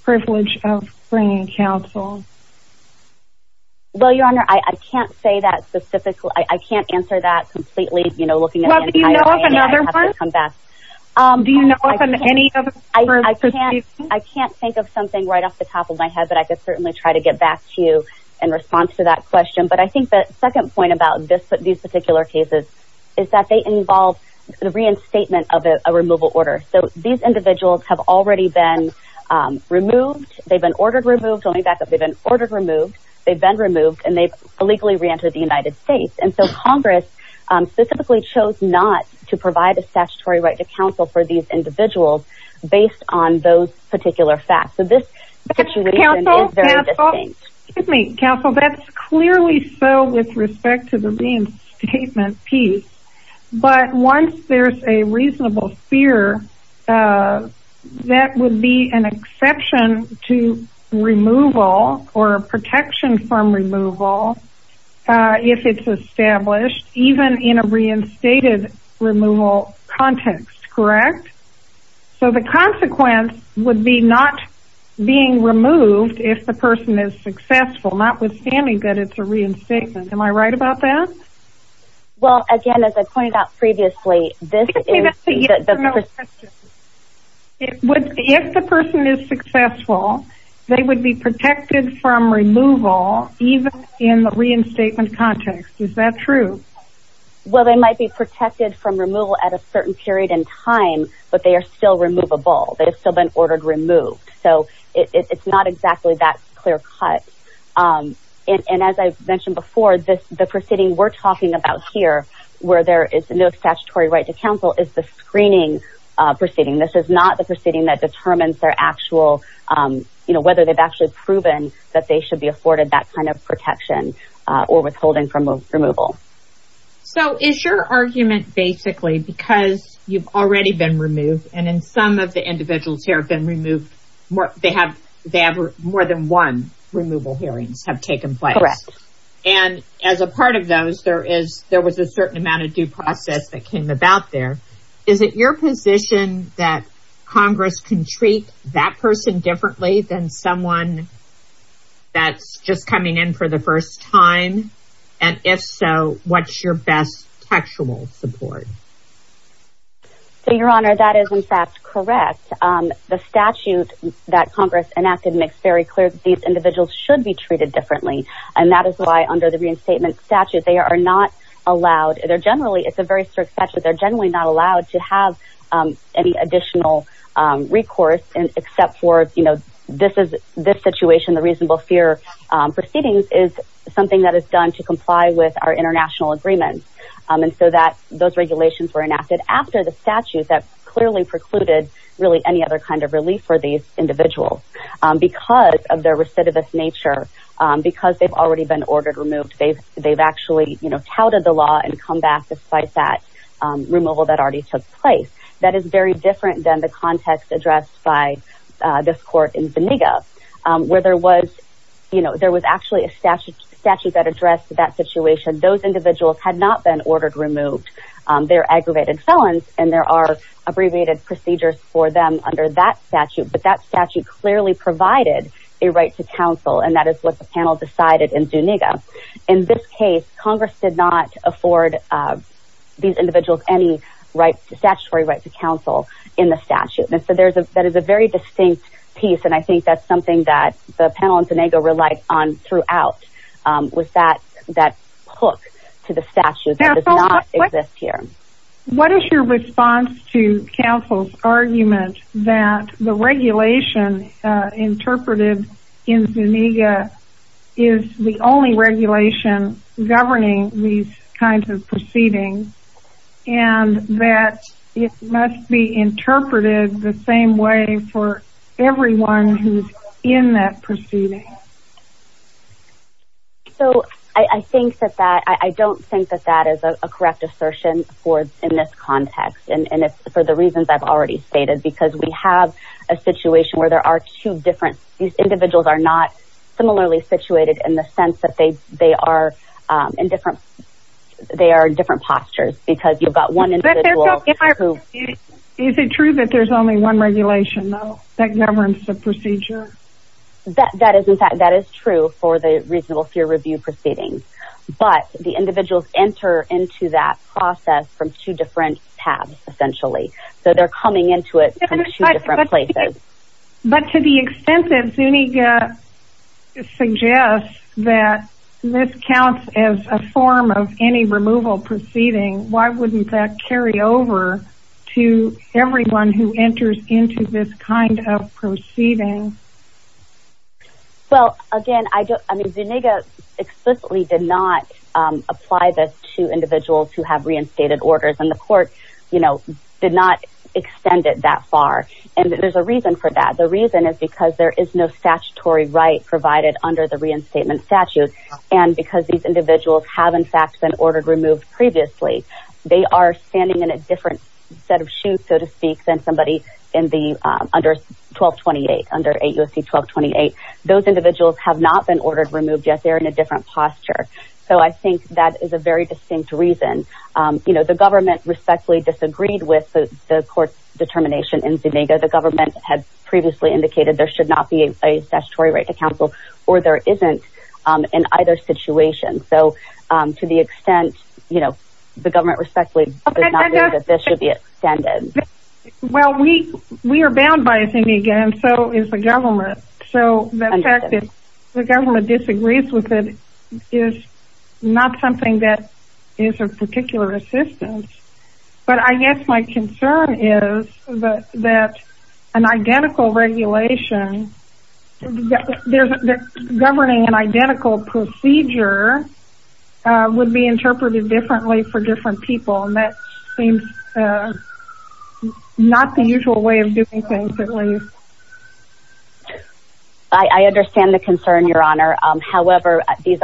privilege of bringing counsel? Well, Your Honor, I can't say that specifically. I can't answer that completely, you know, looking at any time. Well, do you know of another one? Do you know of any other? I can't think of something right off the top of my head, but I can certainly try to get back to you in response to that question. But I think the second point about these particular cases is that they involve the reinstatement of a removal order. So, these individuals have already been removed. They've been ordered removed. Let me back up. They've been ordered removed. They've been removed, and they've illegally reentered the United States. And so, Congress specifically chose not to provide a statutory right to counsel for these individuals based on those particular facts. So, this situation is very distinct. Excuse me. Counsel, that's clearly so with respect to the reinstatement piece. But once there's a reasonable fear, that would be an exception to removal or protection from removal if it's established, even in a reinstated removal context, correct? So, the consequence would be not being removed if the person is successful, notwithstanding that it's a reinstatement. Am I right about that? Well, again, as I pointed out previously, this is the perspective. If the person is successful, they would be protected from removal even in the reinstatement context. Is that true? Well, they might be protected from removal at a certain period in time, but they are still removable. They've still been ordered removed. So, it's not exactly that clear cut. And as I mentioned before, the proceeding we're talking about here where there is no statutory right to counsel is the screening proceeding. This is not the proceeding that determines their actual, you know, whether they've actually proven that they should be afforded that kind of protection or withholding from removal. So, is your argument basically because you've already been removed, and in some of the individuals here have been removed, they have more than one removal hearing have taken place. Correct. And as a part of those, there was a certain amount of due process that came about there. Is it your position that Congress can treat that person differently than someone that's just coming in for the first time? And if so, what's your best textual support? So, Your Honor, that is, in fact, correct. The statute that Congress enacted makes very clear that these individuals should be treated differently, and that is why under the reinstatement statute they are not allowed. They're generally, it's a very strict statute, they're generally not allowed to have any additional recourse except for, you know, this situation, the reasonable fear proceedings is something that is done to comply with our international agreements. And so those regulations were enacted after the statute that clearly precluded really any other kind of relief for these individuals. Because of their recidivist nature, because they've already been ordered removed, they've actually, you know, touted the law and come back despite that removal that already took place. That is very different than the context addressed by this court in Beniga, where there was, you know, there was actually a statute that addressed that situation. Those individuals had not been ordered removed. They're aggravated felons, and there are abbreviated procedures for them under that statute. But that statute clearly provided a right to counsel, and that is what the panel decided in Beniga. In this case, Congress did not afford these individuals any statutory right to counsel in the statute. And so that is a very distinct piece, and I think that's something that the panel in Beniga relied on throughout, was that hook to the statute that does not exist here. What is your response to counsel's argument that the regulation interpreted in Beniga is the only regulation governing these kinds of proceedings, and that it must be interpreted the same way for everyone who's in that proceeding? So I think that that, I don't think that that is a correct assertion in this context, and it's for the reasons I've already stated, because we have a situation where there are two different, these individuals are not similarly situated in the sense that they are in different postures, because you've got one individual who... Is it true that there's only one regulation, though, that governs the procedure? That is true for the reasonable fear review proceedings, but the individuals enter into that process from two different tabs, essentially. So they're coming into it from two different places. But to the extent that Beniga suggests that this counts as a form of any removal proceeding, why wouldn't that carry over to everyone who enters into this kind of proceeding? Well, again, I mean, Beniga explicitly did not apply this to individuals who have reinstated orders, and the court, you know, did not extend it that far. And there's a reason for that. The reason is because there is no statutory right provided under the reinstatement statute, and because these individuals have, in fact, been ordered removed previously. They are standing in a different set of shoes, so to speak, than somebody under 1228, under 8 U.S.C. 1228. Those individuals have not been ordered removed, yet they're in a different posture. So I think that is a very distinct reason. You know, the government respectfully disagreed with the court's determination in Beniga. The government had previously indicated there should not be a statutory right to counsel, or there isn't in either situation. So to the extent, you know, the government respectfully did not agree that this should be extended. Well, we are bound by Beniga, and so is the government. So the fact that the government disagrees with it is not something that is of particular assistance. But I guess my concern is that an identical regulation, that governing an identical procedure would be interpreted differently for different people, and that seems not the usual way of doing things, at least. I understand the concern, Your Honor. However, these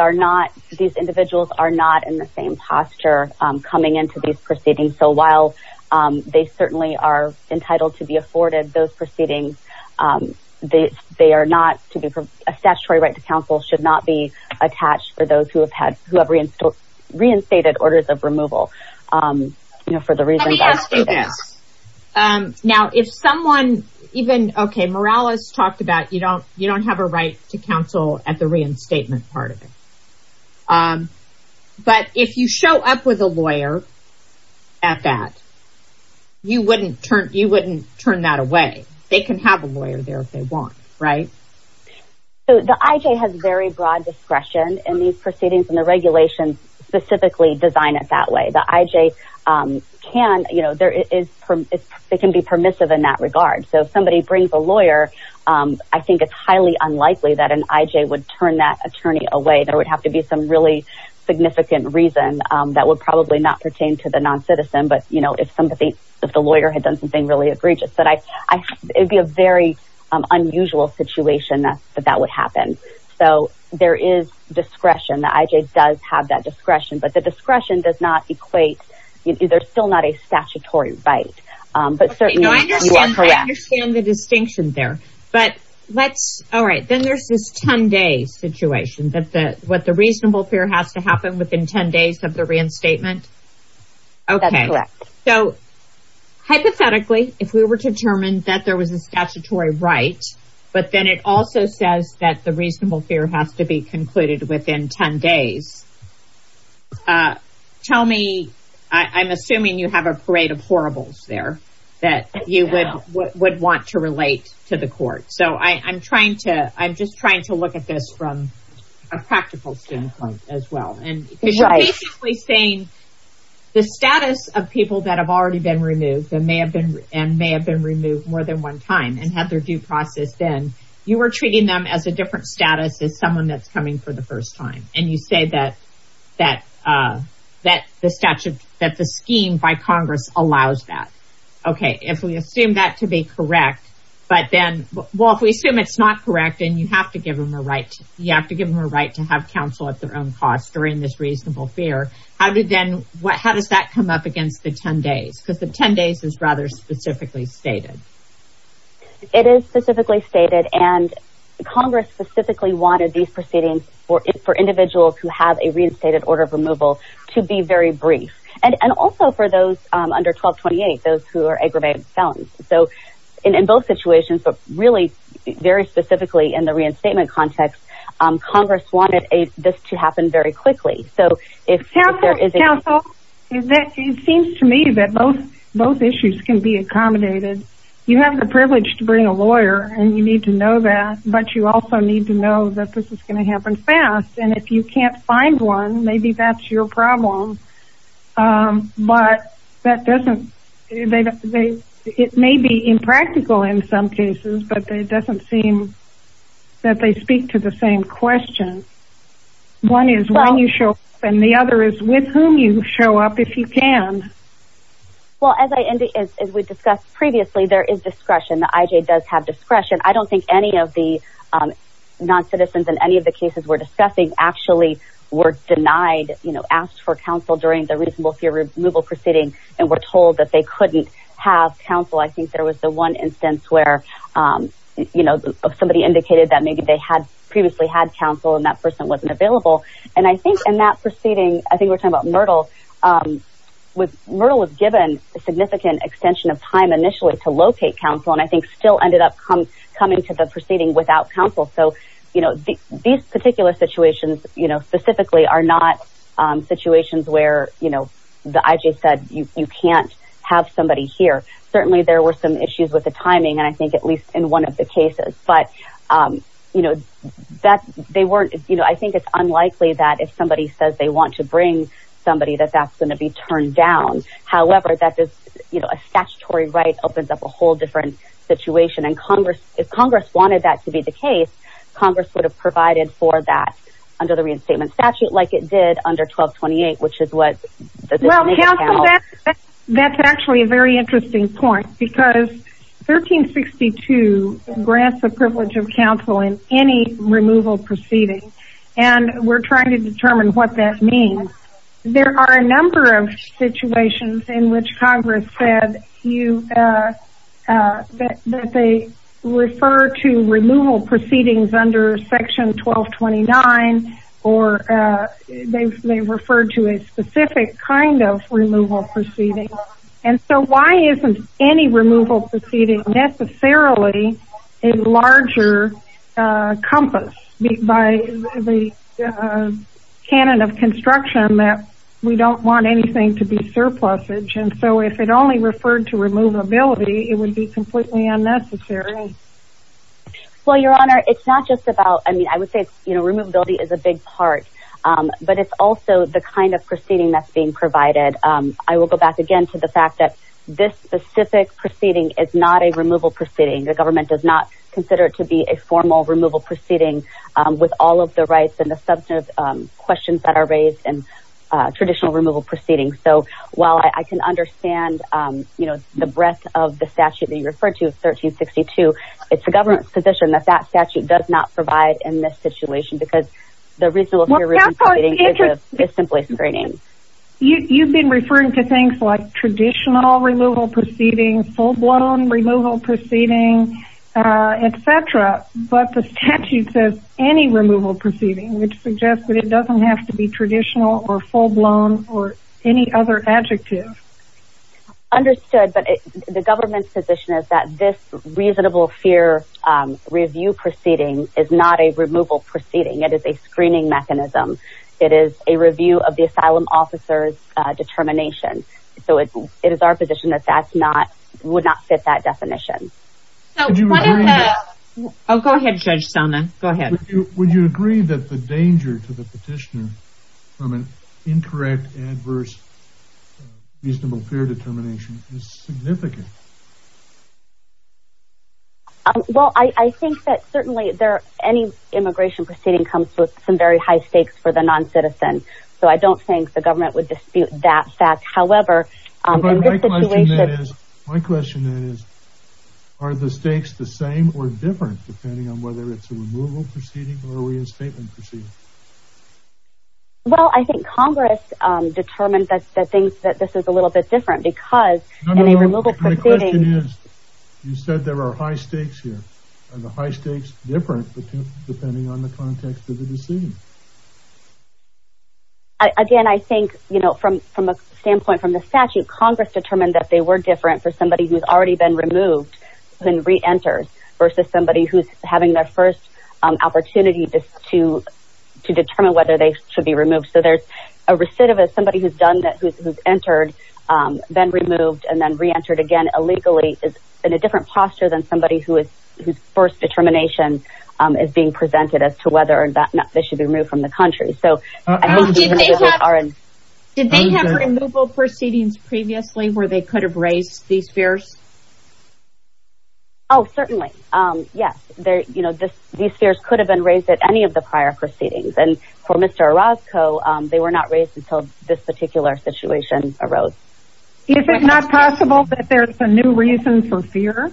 individuals are not in the same posture coming into these proceedings. So while they certainly are entitled to be afforded those proceedings, a statutory right to counsel should not be attached for those who have reinstated orders of removal, you know, for the reasons I stated. Now, if someone even, okay, Morales talked about you don't have a right to counsel at the reinstatement part of it. But if you show up with a lawyer at that, you wouldn't turn that away. They can have a lawyer there if they want, right? So the IJ has very broad discretion, and these proceedings and the regulations specifically design it that way. The IJ can, you know, they can be permissive in that regard. So if somebody brings a lawyer, I think it's highly unlikely that an IJ would turn that attorney away. There would have to be some really significant reason that would probably not pertain to the noncitizen, but, you know, if the lawyer had done something really egregious. But it would be a very unusual situation that that would happen. So there is discretion. The IJ does have that discretion. But the discretion does not equate, there's still not a statutory right. But certainly, yeah, correct. I understand the distinction there. But let's, all right, then there's this 10-day situation. That's what the reasonable fear has to happen within 10 days of the reinstatement? Okay. That's correct. So hypothetically, if we were determined that there was a statutory right, but then it also says that the reasonable fear has to be concluded within 10 days, tell me, I'm assuming you have a parade of horribles there that you would want to relate to the court. So I'm trying to, I'm just trying to look at this from a practical standpoint as well. You're basically saying the status of people that have already been removed and may have been removed more than one time and have their due process in, you are treating them as a different status than someone that's coming for the first time. And you say that the statute, that the scheme by Congress allows that. Okay. If we assume that to be correct, but then, well, if we assume it's not correct, then you have to give them a right, you have to give them a right to have counsel at their own cost during this reasonable fear. How does that come up against the 10 days? Because the 10 days is rather specifically stated. It is specifically stated, and Congress specifically wanted these proceedings for individuals who have a reinstated order of removal to be very brief. And also for those under 1228, those who are aggravated felons. So in both situations, but really very specifically in the reinstatement context, Congress wanted this to happen very quickly. Counsel, it seems to me that both issues can be accommodated. You have the privilege to bring a lawyer, and you need to know that, but you also need to know that this is going to happen fast. And if you can't find one, maybe that's your problem. But that doesn't – it may be impractical in some cases, but it doesn't seem that they speak to the same question. One is when you show up, and the other is with whom you show up if you can. Well, as we discussed previously, there is discretion. The IJ does have discretion. I don't think any of the noncitizens in any of the cases we're discussing actually were denied, you know, asked for counsel during the reasonable fear removal proceeding and were told that they couldn't have counsel. I think there was the one instance where, you know, somebody indicated that maybe they had previously had counsel and that person wasn't available. And I think in that proceeding, I think we're talking about Myrtle, Myrtle was given a significant extension of time initially to locate counsel and I think still ended up coming to the proceeding without counsel. So, you know, these particular situations, you know, specifically are not situations where, you know, the IJ said you can't have somebody here. Certainly there were some issues with the timing, and I think at least in one of the cases. But, you know, that's – they weren't – you know, I think it's unlikely that if somebody says they want to bring somebody that that's going to be turned down. However, that is, you know, a statutory right opens up a whole different situation. And if Congress wanted that to be the case, Congress would have provided for that under the reinstatement statute, like it did under 1228, which is what – Well, counsel, that's actually a very interesting point because 1362 grants the privilege of counsel in any removal proceeding, and we're trying to determine what that means. There are a number of situations in which Congress said you – that they refer to removal proceedings under Section 1229 or they refer to a specific kind of removal proceeding. And so why isn't any removal proceeding necessarily a larger compass by the canon of construction that we don't want anything to be surplusage? And so if it only referred to removability, it would be completely unnecessary. Well, Your Honor, it's not just about – I mean, I would say, you know, removability is a big part, but it's also the kind of proceeding that's being provided. I will go back again to the fact that this specific proceeding is not a removal proceeding. The government does not consider it to be a formal removal proceeding with all of the rights and the substantive questions that are raised in traditional removal proceedings. So while I can understand, you know, the breadth of the statute that you referred to, 1362, it's the government's position that that statute does not provide in this situation because the reasonable fear of removal proceedings is simply screening. You've been referring to things like traditional removal proceedings, full-blown removal proceedings, et cetera, but the statute says any removal proceeding, which suggests that it doesn't have to be traditional or full-blown or any other adjective. Understood, but the government's position is that this reasonable fear review proceeding is not a removal proceeding. It is a screening mechanism. It is a review of the asylum officer's determination. So it is our position that that's not – would not fit that definition. Oh, go ahead, Judge Stoneman. Go ahead. Would you agree that the danger to the petitioner from an incorrect, adverse reasonable fear determination is significant? Well, I think that certainly any immigration proceeding comes with some very high stakes for the noncitizen, so I don't think the government would dispute that fact. However, in this situation – My question then is, are the stakes the same or different, depending on whether it's a removal proceeding or a reinstatement proceeding? Well, I think Congress determined that they think that this is a little bit different because in a removal proceeding – My question is, you said there are high stakes here. Are the high stakes different depending on the context of the decision? Again, I think, you know, from a standpoint from the statute, Congress determined that they were different for somebody who's already been removed and reentered versus somebody who's having their first opportunity to determine whether they should be removed. So there's a recidivist, somebody who's entered, then removed, and then reentered again illegally is in a different posture than somebody whose first determination is being presented as to whether or not they should be removed from the country. Did they have removal proceedings previously where they could have raised these fears? Oh, certainly. Yes. These fears could have been raised at any of the prior proceedings. And for Mr. Orozco, they were not raised until this particular situation arose. Is it not possible that there's a new reason for fear?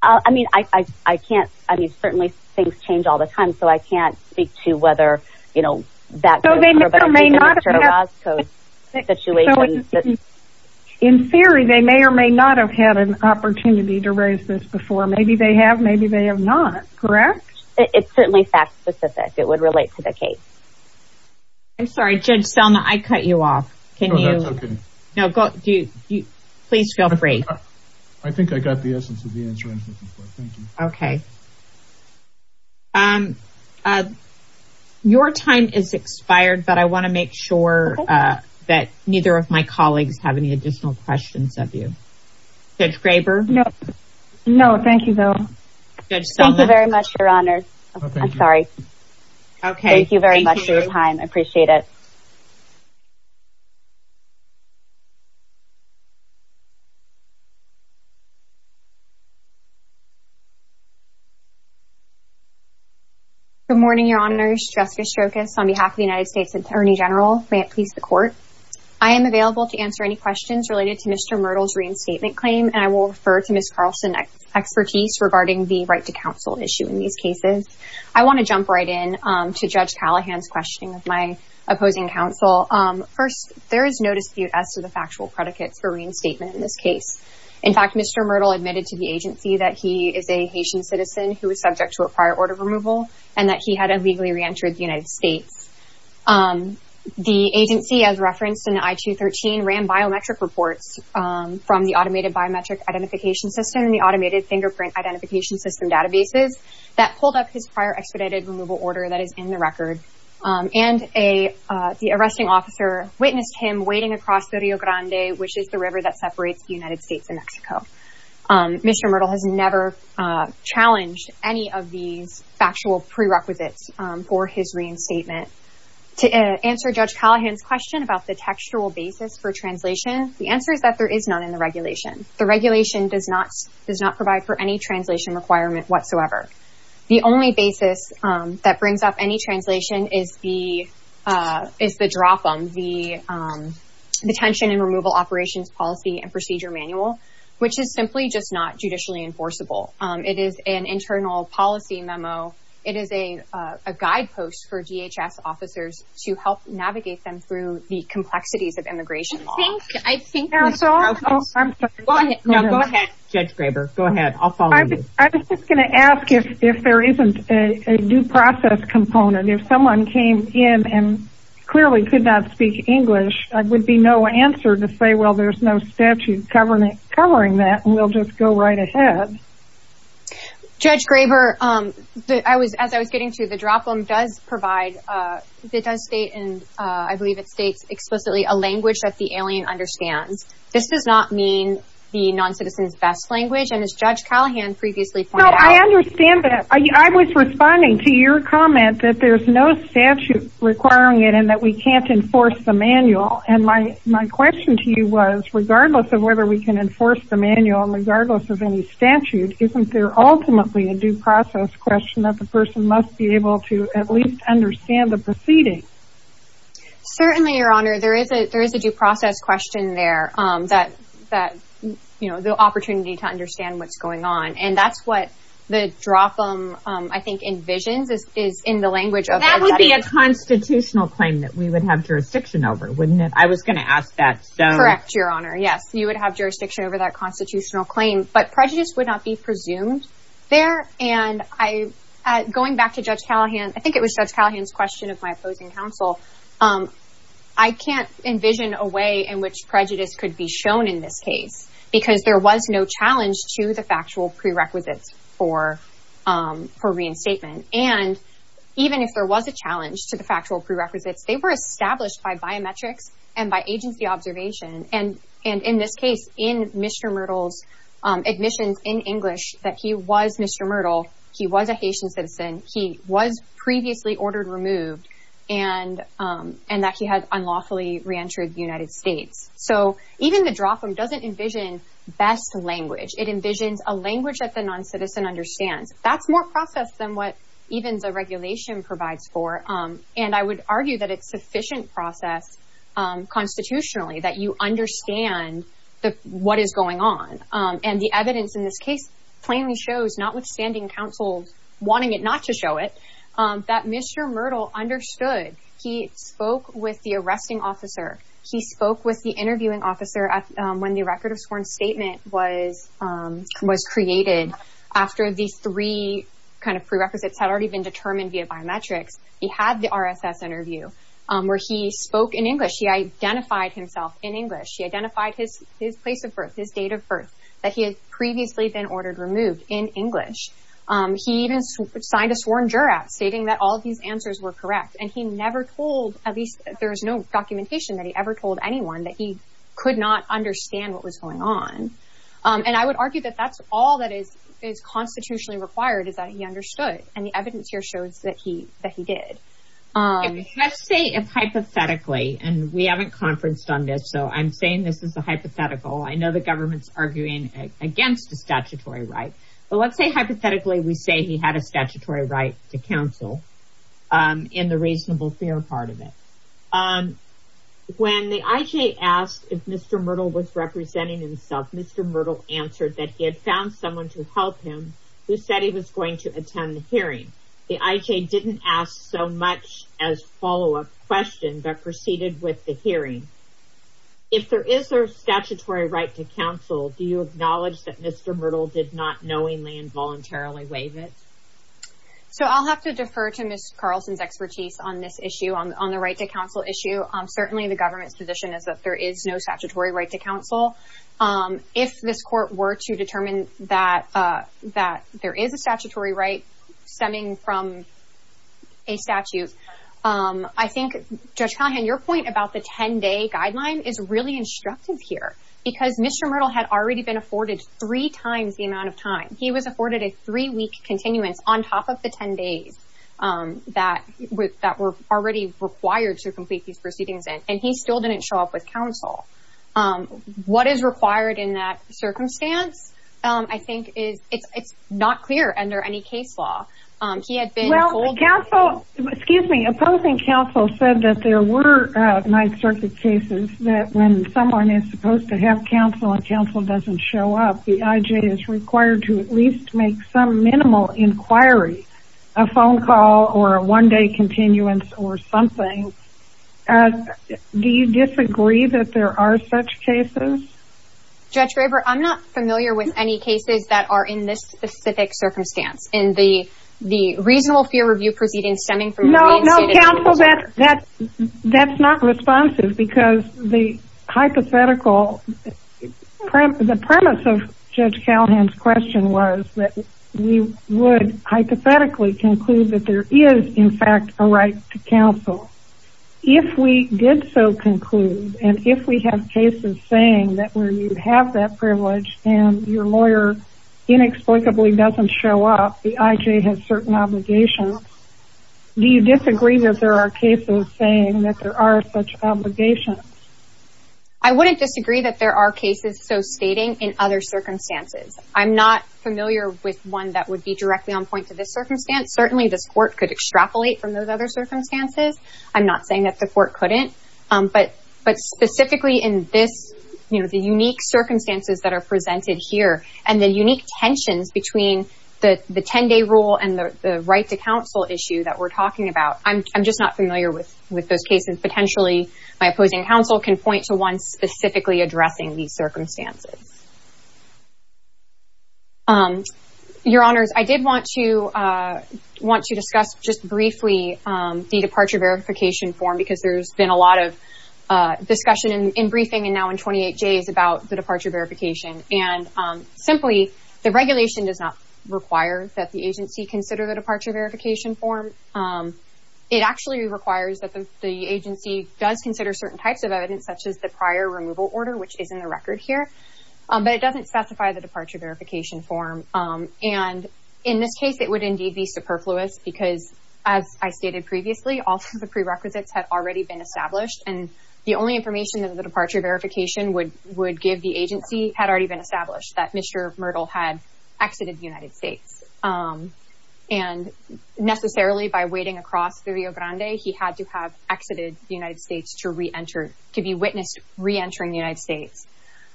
I mean, I can't – I mean, certainly things change all the time, and so I can't speak to whether, you know, that goes for Mr. Orozco's situation. In theory, they may or may not have had an opportunity to raise this before. Maybe they have, maybe they have not. Correct? It's certainly fact specific. It would relate to the case. I'm sorry, Jed, Selma, I cut you off. No, that's okay. Please feel free. I think I got the essence of the answer I was looking for. Thank you. Okay. Your time has expired, but I want to make sure that neither of my colleagues have any additional questions of you. Judge Graber? No, thank you, though. Judge Selma? Thank you very much, Your Honor. I'm sorry. Okay. Thank you very much for your time. I appreciate it. Good morning, Your Honor. Jessica Shokas on behalf of the United States Attorney General. May it please the Court. I am available to answer any questions related to Mr. Myrtle's reinstatement claim, and I will refer to Ms. Carlson's expertise regarding the right to counsel issue in these cases. I want to jump right in to Judge Callahan's question with my opposing counsel. First, there is no dispute as to the factual predicate for reinstatement in this case. In fact, Mr. Myrtle admitted to the agency that he is a Haitian citizen who is subject to a prior order removal and that he had illegally reentered the United States. The agency, as referenced in the I-213, ran biometric reports from the automated biometric identification system and the automated fingerprint identification system databases that pulled up his prior expedited removal order that is in the record. And the arresting officer witnessed him wading across the Rio Grande, which is the river that separates the United States and Mexico. Mr. Myrtle has never challenged any of the factual prerequisites for his reinstatement. To answer Judge Callahan's question about the textual basis for translation, the answer is that there is none in the regulation. The regulation does not provide for any translation requirement whatsoever. The only basis that brings up any translation is the DROPM, the Detention and Removal Operations Policy and Procedure Manual, which is simply just not judicially enforceable. It is an internal policy memo. It is a guidepost for DHS officers to help navigate them through the complexities of immigration law. Judge Graber, go ahead. I'll follow you. I was just going to ask if there isn't a due process component. If someone came in and clearly could not speak English, there would be no answer to say, well, there's no statute covering that. We'll just go right ahead. Judge Graber, as I was getting to, the DROPM does provide, it does state explicitly a language that the alien understands. This does not mean the noncitizen's best language, and as Judge Callahan previously pointed out. No, I understand that. I was responding to your comment that there's no statute requiring it and that we can't enforce the manual. And my question to you was, regardless of whether we can enforce the manual and regardless of any statute, isn't there ultimately a due process question that the person must be able to at least understand the proceeding? Certainly, Your Honor. There is a due process question there, the opportunity to understand what's going on. And that's what the DROPM, I think, envisions is in the language of the statute. That would be a constitutional claim that we would have jurisdiction over, wouldn't it? I was going to ask that. Correct, Your Honor. Yes, you would have jurisdiction over that constitutional claim. But prejudice would not be presumed there. Going back to Judge Callahan, I think it was Judge Callahan's question of my opposing counsel. I can't envision a way in which prejudice could be shown in this case because there was no challenge to the factual prerequisites for reinstatement. And even if there was a challenge to the factual prerequisites, they were established by biometrics and by agency observation. And in this case, in Mr. Myrtle's admissions in English, that he was Mr. Myrtle, he was a Haitian citizen, he was previously ordered removed, and that he has unlawfully reentered the United States. So even the DROPM doesn't envision best language. It envisions a language that the noncitizen understands. That's more process than what even the regulation provides for. And I would argue that it's sufficient process constitutionally that you understand what is going on. And the evidence in this case plainly shows, notwithstanding counsel wanting it not to show it, that Mr. Myrtle understood. He spoke with the arresting officer. He spoke with the interviewing officer when the record of sworn statement was created. After the three prerequisites had already been determined via biometrics, he had the RSS interview where he spoke in English. He identified himself in English. He identified his place of birth, his date of birth, that he had previously been ordered removed in English. He even signed a sworn draft stating that all of these answers were correct. And he never told, at least there is no documentation that he ever told anyone, that he could not understand what was going on. And I would argue that that's all that is constitutionally required is that he understood. And the evidence here shows that he did. Let's say hypothetically, and we haven't conferenced on this, so I'm saying this is a hypothetical. I know the government is arguing against the statutory right. So let's say hypothetically we say he had a statutory right to counsel in the reasonable fear part of it. When the IJ asked if Mr. Myrtle was representing himself, Mr. Myrtle answered that he had found someone to help him who said he was going to attend the hearing. The IJ didn't ask so much as a follow-up question but proceeded with the hearing. If there is a statutory right to counsel, do you acknowledge that Mr. Myrtle did not knowingly and voluntarily waive it? So I'll have to defer to Ms. Carlson's expertise on this issue, on the right to counsel issue. Certainly the government's position is that there is no statutory right to counsel. If this court were to determine that there is a statutory right stemming from a statute, I think, Judge Conhan, your point about the 10-day guideline is really instructive here because Mr. Myrtle had already been afforded three times the amount of time. He was afforded a three-week continuance on top of the 10 days that were already required to complete these proceedings. And he still didn't show up with counsel. What is required in that circumstance, I think, is not clear under any case law. He had been told- Well, counsel, excuse me, opposing counsel said that there were Ninth Circuit cases that when someone is supposed to have counsel and counsel doesn't show up, the IJ is required to at least make some minimal inquiry, a phone call or a one-day continuance or something. Do you disagree that there are such cases? Judge Graber, I'm not familiar with any cases that are in this specific circumstance. In the regional fear review proceeding stemming from- No, no, counsel, that's not responsive because the hypothetical- If we did so conclude and if we have cases saying that when you have that privilege and your lawyer inexplicably doesn't show up, the IJ has certain obligations, do you disagree that there are cases saying that there are such obligations? I wouldn't disagree that there are cases so stating in other circumstances. I'm not familiar with one that would be directly on point to this circumstance. I'm not saying that the court couldn't. But specifically in this, you know, the unique circumstances that are presented here and the unique tension between the 10-day rule and the right to counsel issue that we're talking about, I'm just not familiar with those cases. Potentially, my opposing counsel can point to one specifically addressing these circumstances. Your Honors, I did want to discuss just briefly the departure verification form because there's been a lot of discussion in briefing and now in 28 days about the departure verification. And simply, the regulation does not require that the agency consider the departure verification form. It actually requires that the agency does consider certain types of evidence such as the prior removal order, which is in the record here. But it doesn't specify the departure verification form. And in this case, it would indeed be superfluous because as I stated previously, all the prerequisites have already been established and the only information that the departure verification would give the agency had already been established that Mr. Myrtle had exited the United States. And necessarily by waiting across the Rio Grande, he had to have exited the United States to be witnessed reentering the United States.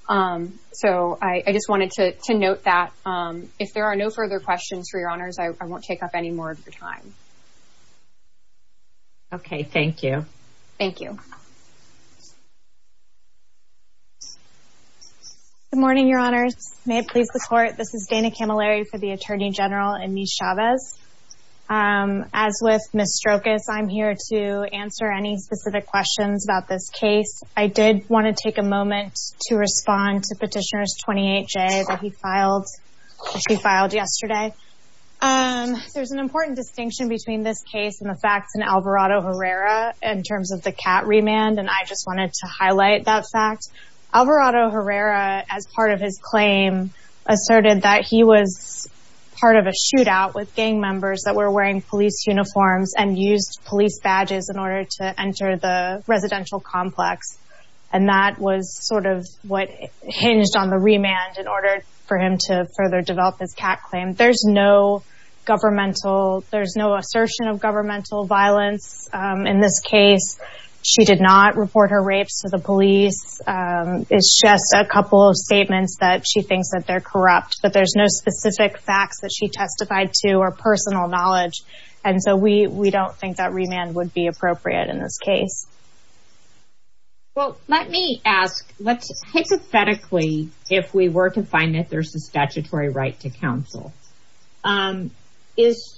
So, I just wanted to note that. If there are no further questions for Your Honors, I won't take up any more of your time. Okay. Thank you. Thank you. Good morning, Your Honors. May it please the Court. This is Dana Camilleri for the Attorney General and Ms. Chavez. As with Ms. Strokis, I'm here to answer any specific questions about this case. I did want to take a moment to respond to Petitioner 28J that she filed yesterday. There's an important distinction between this case and the facts in Alvarado Herrera in terms of the cat remand, and I just wanted to highlight that fact. Alvarado Herrera, as part of his claim, asserted that he was part of a shootout with gang members that were wearing police uniforms and used police badges in order to enter the residential complex. And that was sort of what hinged on the remand in order for him to further develop this cat claim. There's no assertion of governmental violence in this case. She did not report her rapes to the police. It's just a couple of statements that she thinks that they're corrupt, that there's no specific facts that she testified to or personal knowledge. And so we don't think that remand would be appropriate in her case. Well, let me ask, hypothetically, if we were to find that there's a statutory right to counsel, is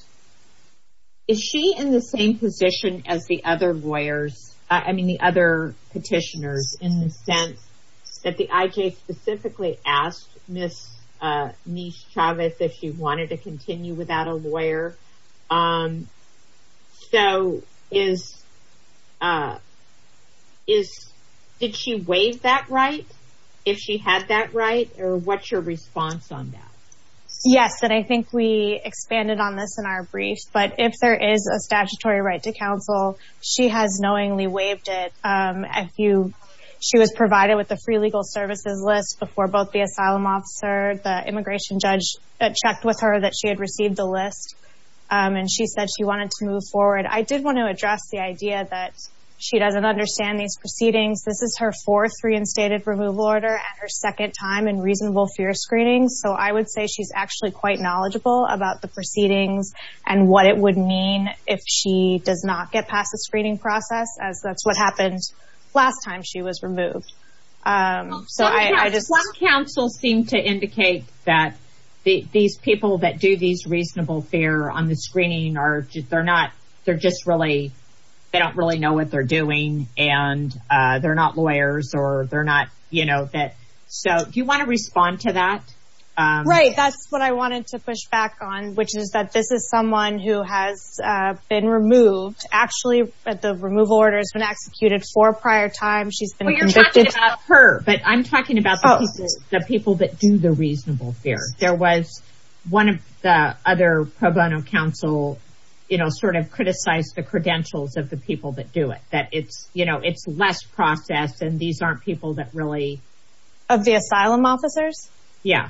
she in the same position as the other lawyers, I mean the other petitioners, in the sense that the IJ specifically asked Ms. Chavez if she wanted to continue without a lawyer so did she waive that right, if she had that right, or what's your response on that? Yes, and I think we expanded on this in our brief. But if there is a statutory right to counsel, she has knowingly waived it. She was provided with a free legal services list before both the asylum officer, the immigration judge had checked with her that she had received the list, and she said she wanted to move forward. I did want to address the idea that she doesn't understand these proceedings. This is her fourth reinstated removal order and her second time in reasonable fear screening. So I would say she's actually quite knowledgeable about the proceedings and what it would mean if she does not get past the screening process, as that's what happened last time she was removed. Some counsels seem to indicate that these people that do these reasonable fear on the screening, they don't really know what they're doing and they're not lawyers. So do you want to respond to that? Right, that's what I wanted to push back on, which is that this is someone who has been removed. Actually, the removal order has been executed four prior times. Well, you're talking about her, but I'm talking about the people that do the reasonable fear. One of the other pro bono counsels sort of criticized the credentials of the people that do it, that it's less process and these aren't people that really… Of the asylum officers? Yeah.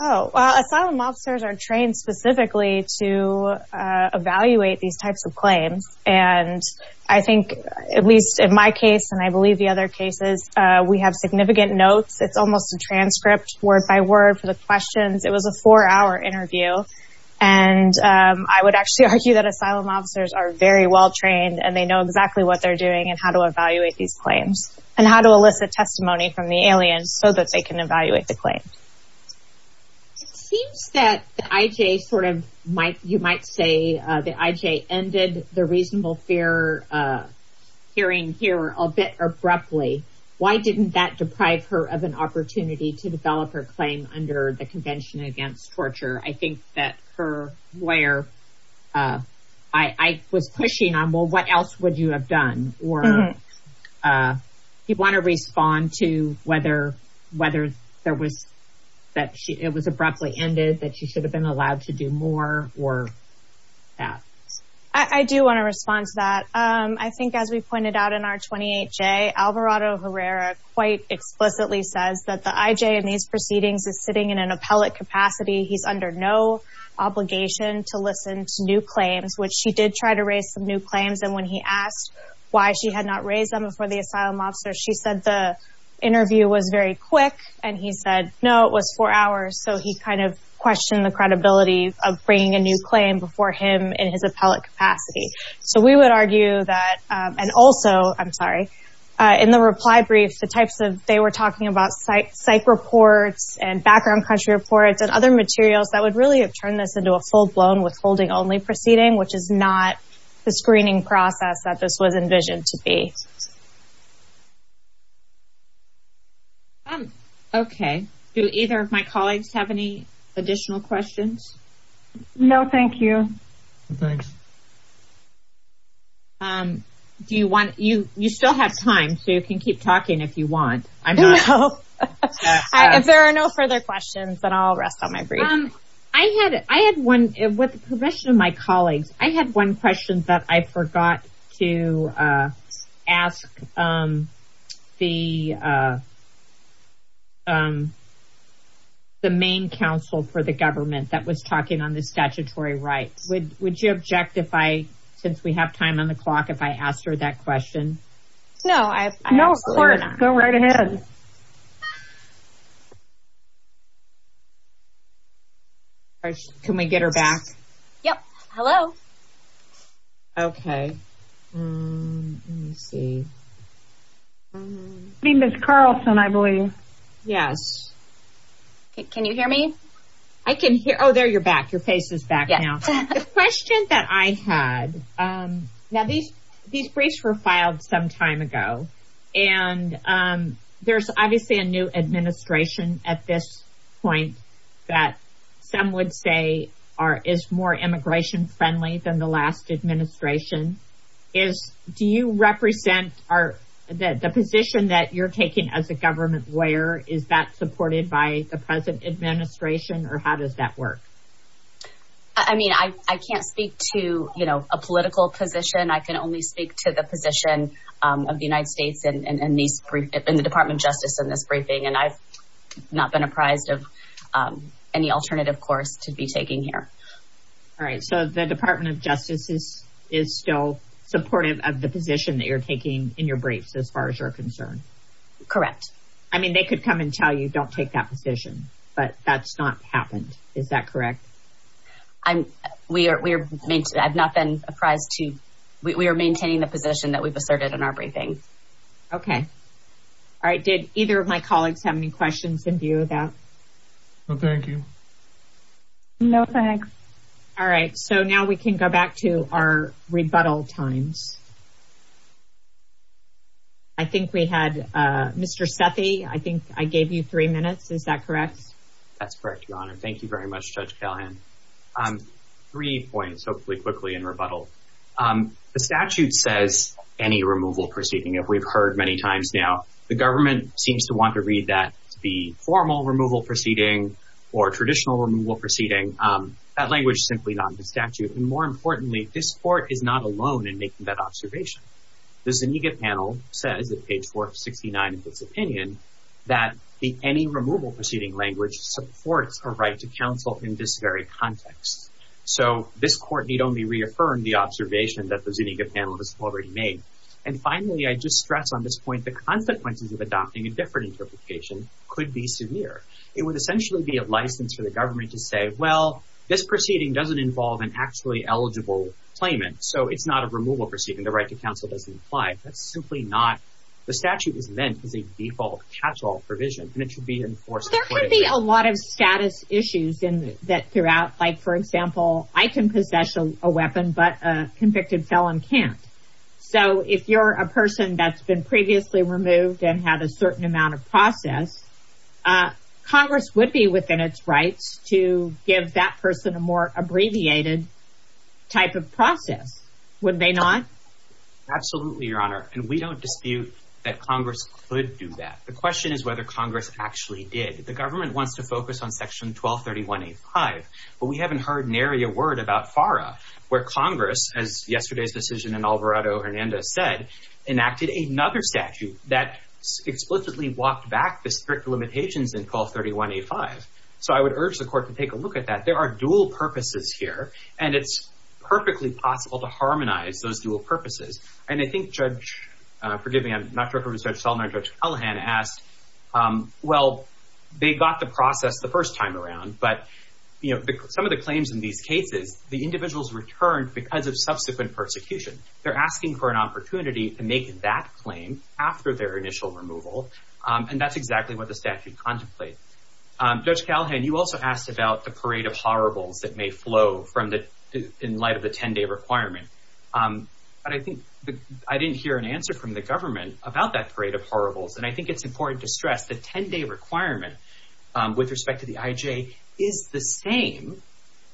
Oh, asylum officers are trained specifically to evaluate these types of claims, and I think, at least in my case and I believe the other cases, we have significant notes. It's almost a transcript word-by-word for the questions. It was a four-hour interview, and I would actually argue that asylum officers are very well trained and they know exactly what they're doing and how to evaluate these claims and how to elicit testimony from the aliens so that they can evaluate the claims. It seems that the IJ sort of, you might say, the IJ ended the reasonable fear hearing here a bit abruptly. Why didn't that deprive her of an opportunity to develop her claim under the Convention Against Torture? I think that for where I was pushing on, well, what else would you have done? Do you want to respond to whether it was abruptly ended, that she should have been allowed to do more or that? I do want to respond to that. I think, as we pointed out in our 28J, Alvarado Herrera quite explicitly says that the IJ in these proceedings is sitting in an appellate capacity. He's under no obligation to listen to new claims, which he did try to raise some new claims, and when he asked why she had not raised them before the asylum officer, she said the interview was very quick, and he said, no, it was four hours, so he kind of questioned the credibility of bringing a new claim before him in his appellate capacity. So we would argue that, and also, I'm sorry, in the reply brief, they were talking about psych reports and background country reports and other materials that would really have turned this into a full-blown withholding-only proceeding, which is not the screening process that this was envisioned to be. Okay. Do either of my colleagues have any additional questions? No, thank you. You still have time, so you can keep talking if you want. If there are no further questions, then I'll rest on my brief. I had one, with the permission of my colleagues, I had one question, but I forgot to ask the main counsel for the government that was talking on the statutory right. Would you object if I, since we have time on the clock, if I asked her that question? No. No, of course. Go right ahead. Can we get her back? Yep. Hello. Okay. I see Ms. Carlson, I believe. Yes. Can you hear me? I can hear you. Oh, there you're back. Your face is back now. The question that I had, now these briefs were filed some time ago, and there's obviously a new administration at this point that some would say is more immigration friendly than the last administration. Do you represent the position that you're taking as a government lawyer? Is that supported by the present administration, or how does that work? I mean, I can't speak to a political position. I can only speak to the position of the United States and the Department of Justice in this briefing, and I've not been apprised of any alternative course to be taking here. All right, so the Department of Justice is still supportive of the position that you're taking in your brief, as far as you're concerned. Correct. I mean, they could come and tell you don't take that position, but that's not happened. Is that correct? I've not been apprised to. We are maintaining the position that was asserted in our briefing. Okay. All right, did either of my colleagues have any questions in view of that? No, thank you. No, thanks. All right, so now we can go back to our rebuttal times. I think we had Mr. Steffi. I think I gave you three minutes. Is that correct? That's correct, Your Honor. Thank you very much, Judge Callahan. Three points, hopefully quickly, in rebuttal. The statute says any removal proceeding. We've heard many times now the government seems to want to read that the formal removal proceeding or traditional removal proceeding. That language is simply not in the statute. More importantly, this court is not alone in making that observation. The Zuniga panel said, at page 469 of this opinion, that any removal proceeding language supports a right to counsel in this very context. So this court need only reaffirm the observation that the Zuniga panel has already made. And finally, I just stress on this point, the consequences of adopting a different interpretation could be severe. It would essentially be a license for the government to say, well, this proceeding doesn't involve an actually eligible claimant. So it's not a removal proceeding. The right to counsel doesn't apply. It's simply not. The statute is meant to be default catch-all provision. And it should be enforced. There could be a lot of status issues throughout. Like, for example, I can possess a weapon, but a convicted felon can't. So if you're a person that's been previously removed and had a certain amount of process, Congress would be within its right to give that person a more abbreviated type of process, would they not? Absolutely, Your Honor. And we don't dispute that Congress could do that. The question is whether Congress actually did. The government wants to focus on Section 1231A5. But we haven't heard nary a word about FARA, where Congress, as yesterday's decision in Alvarado-Hernandez said, enacted another statute that explicitly walked back the strict limitations in 1231A5. So I would urge the court to take a look at that. There are dual purposes here. And it's perfectly possible to harmonize those dual purposes. And I think Judge — forgive me, I'm not sure if it was Judge Sullivan or Judge Callahan — asked, well, they got the process the first time around. But, you know, some of the claims in these cases, the individuals returned because of subsequent persecution. They're asking for an opportunity to make that claim after their initial removal. And that's exactly what the statute contemplates. Judge Callahan, you also asked about the parade of horribles that may flow in light of the 10-day requirement. But I think I didn't hear an answer from the government about that parade of horribles. And I think it's important to stress the 10-day requirement with respect to the IJ is the same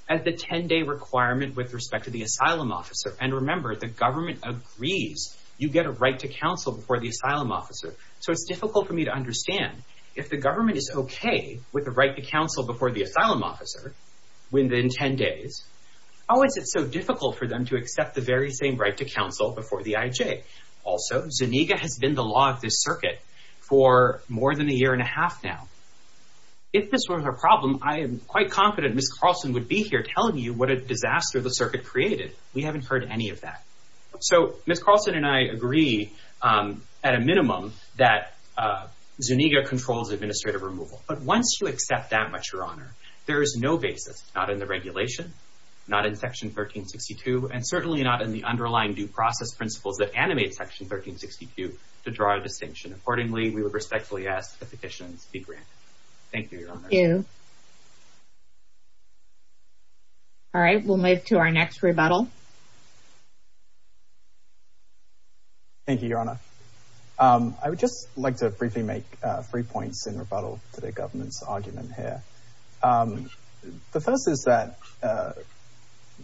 as the 10-day requirement with respect to the asylum officer. And remember, the government agrees you get a right to counsel before the asylum officer. So it's difficult for me to understand if the government is okay with the right to counsel before the asylum officer within 10 days, how is it so difficult for them to accept the very same right to counsel before the IJ? Also, Zuniga has been the law of this circuit for more than a year and a half now. If this was a problem, I am quite confident Ms. Carlson would be here telling you what a disaster the circuit created. We haven't heard any of that. So Ms. Carlson and I agree at a minimum that Zuniga controls administrative removal. But once you accept that, Your Honor, there is no basis, not in the regulation, not in Section 1362, and certainly not in the underlying due process principles that animate Section 1362 to draw a distinction. Accordingly, we would respectfully ask that the petition be granted. Thank you, Your Honor. Thank you. All right, we'll move to our next rebuttal. Thank you, Your Honor. I would just like to briefly make three points in rebuttal to the government's argument here. The first is that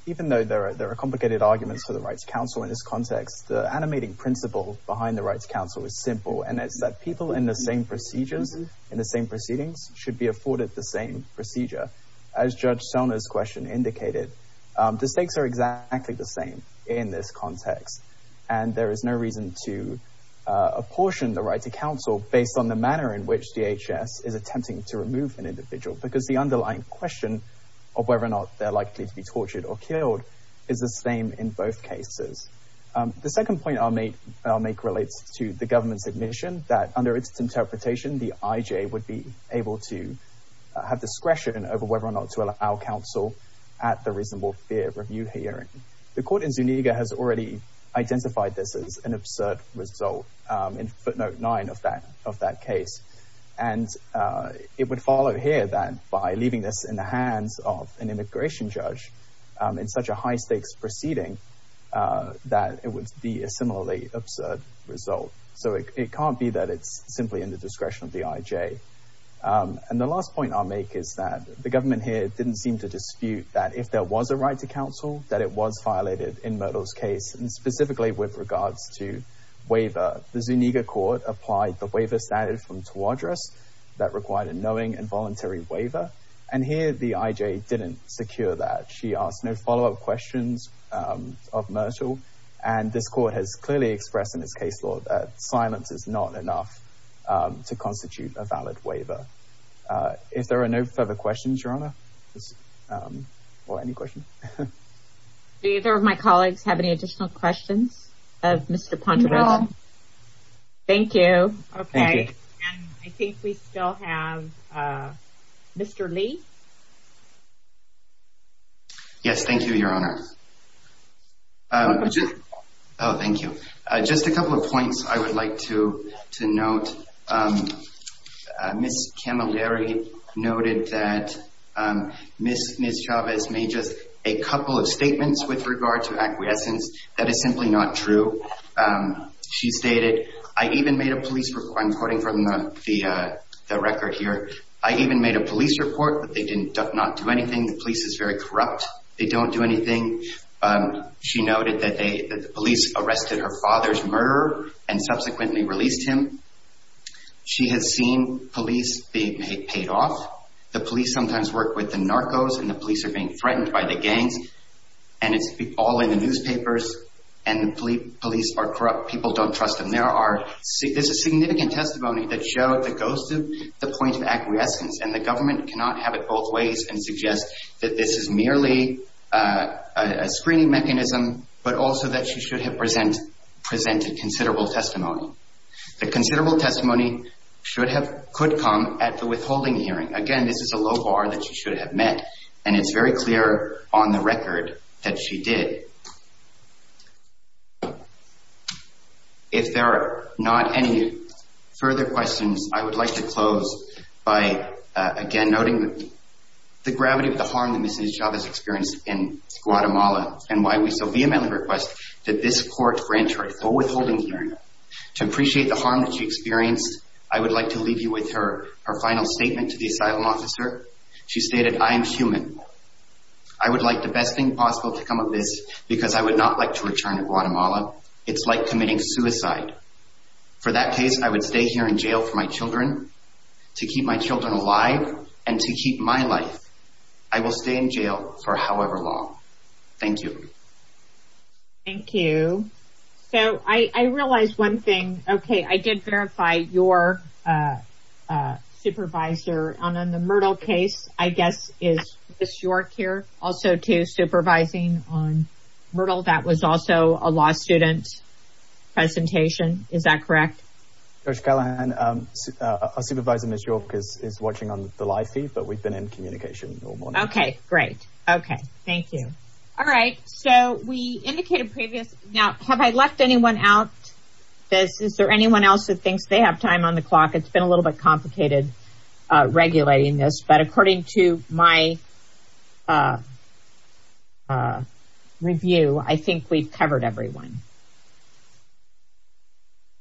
even though there are complicated arguments for the right to counsel in this context, the animating principles behind the right to counsel is simple, and that people in the same procedure, in the same proceedings, should be afforded the same procedure. As Judge Selna's question indicated, the stakes are exactly the same in this context, and there is no reason to apportion the right to counsel based on the manner in which DHS is attempting to remove an individual because the underlying question of whether or not they're likely to be tortured or killed is the same in both cases. The second point I'll make relates to the government's admission that under its interpretation, the IJ would be able to have discretion over whether or not to allow counsel at the reasonable fear review hearing. The court in Zuniga has already identified this as an absurd result in footnote 9 of that case, and it would follow here that by leaving this in the hands of an immigration judge in such a high stakes proceeding, that it would be a similarly absurd result. So it can't be that it's simply in the discretion of the IJ. And the last point I'll make is that the government here didn't seem to dispute that if there was a right to counsel, that it was violated in Myrtle's case, and specifically with regards to waiver. The Zuniga court applied the waiver standard from Tawadros that required a knowing and voluntary waiver, and here the IJ didn't secure that. She asked no follow-up questions of Myrtle, and this court has clearly expressed in its case law that silence is not enough to constitute a valid waiver. If there are no further questions, Your Honor, or any questions. Do either of my colleagues have any additional questions of Mr. Ponderosa? Thank you. Okay. And I think we still have Mr. Lee. Yes, thank you, Your Honor. Oh, thank you. Just a couple of points I would like to note. Ms. Camilleri noted that Ms. Chavez made just a couple of statements with regard to acquiescence. That is simply not true. She stated, I even made a police report, and according to the record here, I even made a police report, but they did not do anything. The police is very corrupt. They don't do anything. She noted that the police arrested her father's murderer and subsequently released him. She has seen police being paid off. The police sometimes work with the narcos, and the police are being threatened by the gang, and it's all in the newspapers, and the police are corrupt. People don't trust them. There's a significant testimony that goes to the point of acquiescence, and the government cannot have it both ways and suggest that this is merely a screening mechanism, but also that she should have presented considerable testimony. The considerable testimony could come at the withholding hearing. Again, this is a low bar that she should have met, and it's very clear on the record that she did. If there are not any further questions, I would like to close by, again, noting the gravity of the harm that Mrs. Chavez experienced in Guatemala, and why we so vehemently request that this court grant her a full withholding hearing. To appreciate the harm that she experienced, I would like to leave you with her final statement to the asylum officer. She stated, I am human. I would like the best thing possible to come of this, because I would not like to return to Guatemala. It's like committing suicide. For that case, I would stay here in jail for my children, to keep my children alive, and to keep my life. I will stay in jail for however long. Thank you. Thank you. So, I realized one thing. Okay, I did verify your supervisor on the Myrtle case, I guess, is Ms. York here, also, too, supervising on Myrtle. That was also a law student's presentation. Is that correct? Judge Callahan, our supervisor, Ms. York, is watching on the live feed, but we've been in communication all morning. Okay, great. Okay, thank you. All right. So, we indicated previous. Now, have I left anyone out? Is there anyone else who thinks they have time on the clock? It's been a little bit complicated regulating this, but according to my review, I think we've covered everyone.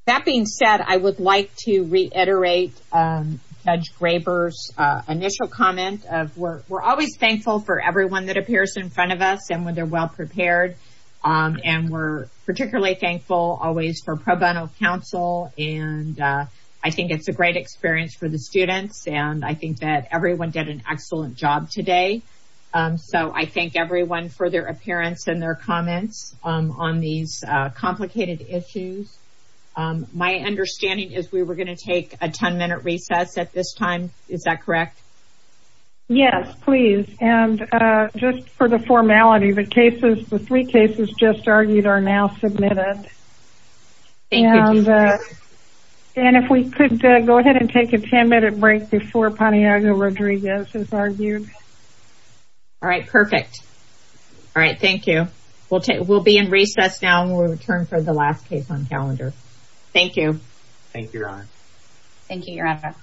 That being said, I would like to reiterate Judge Graber's initial comment of, we're always thankful for everyone that appears in front of us and when they're well prepared, and we're particularly thankful, always, for pro bono counsel. And I think it's a great experience for the students, and I think that everyone did an excellent job today. So, I thank everyone for their appearance and their comments on these complicated issues. My understanding is we were going to take a 10-minute recess at this time. Is that correct? Yes, please. And just for the formality, the three cases just argued are now submitted. Thank you. And if we could go ahead and take a 10-minute break before Pontiago Rodriguez is argued. All right, perfect. All right, thank you. We'll be in recess now, and we'll return for the last case on calendar. Thank you. Thank you, Your Honor. Thank you, Your Honor.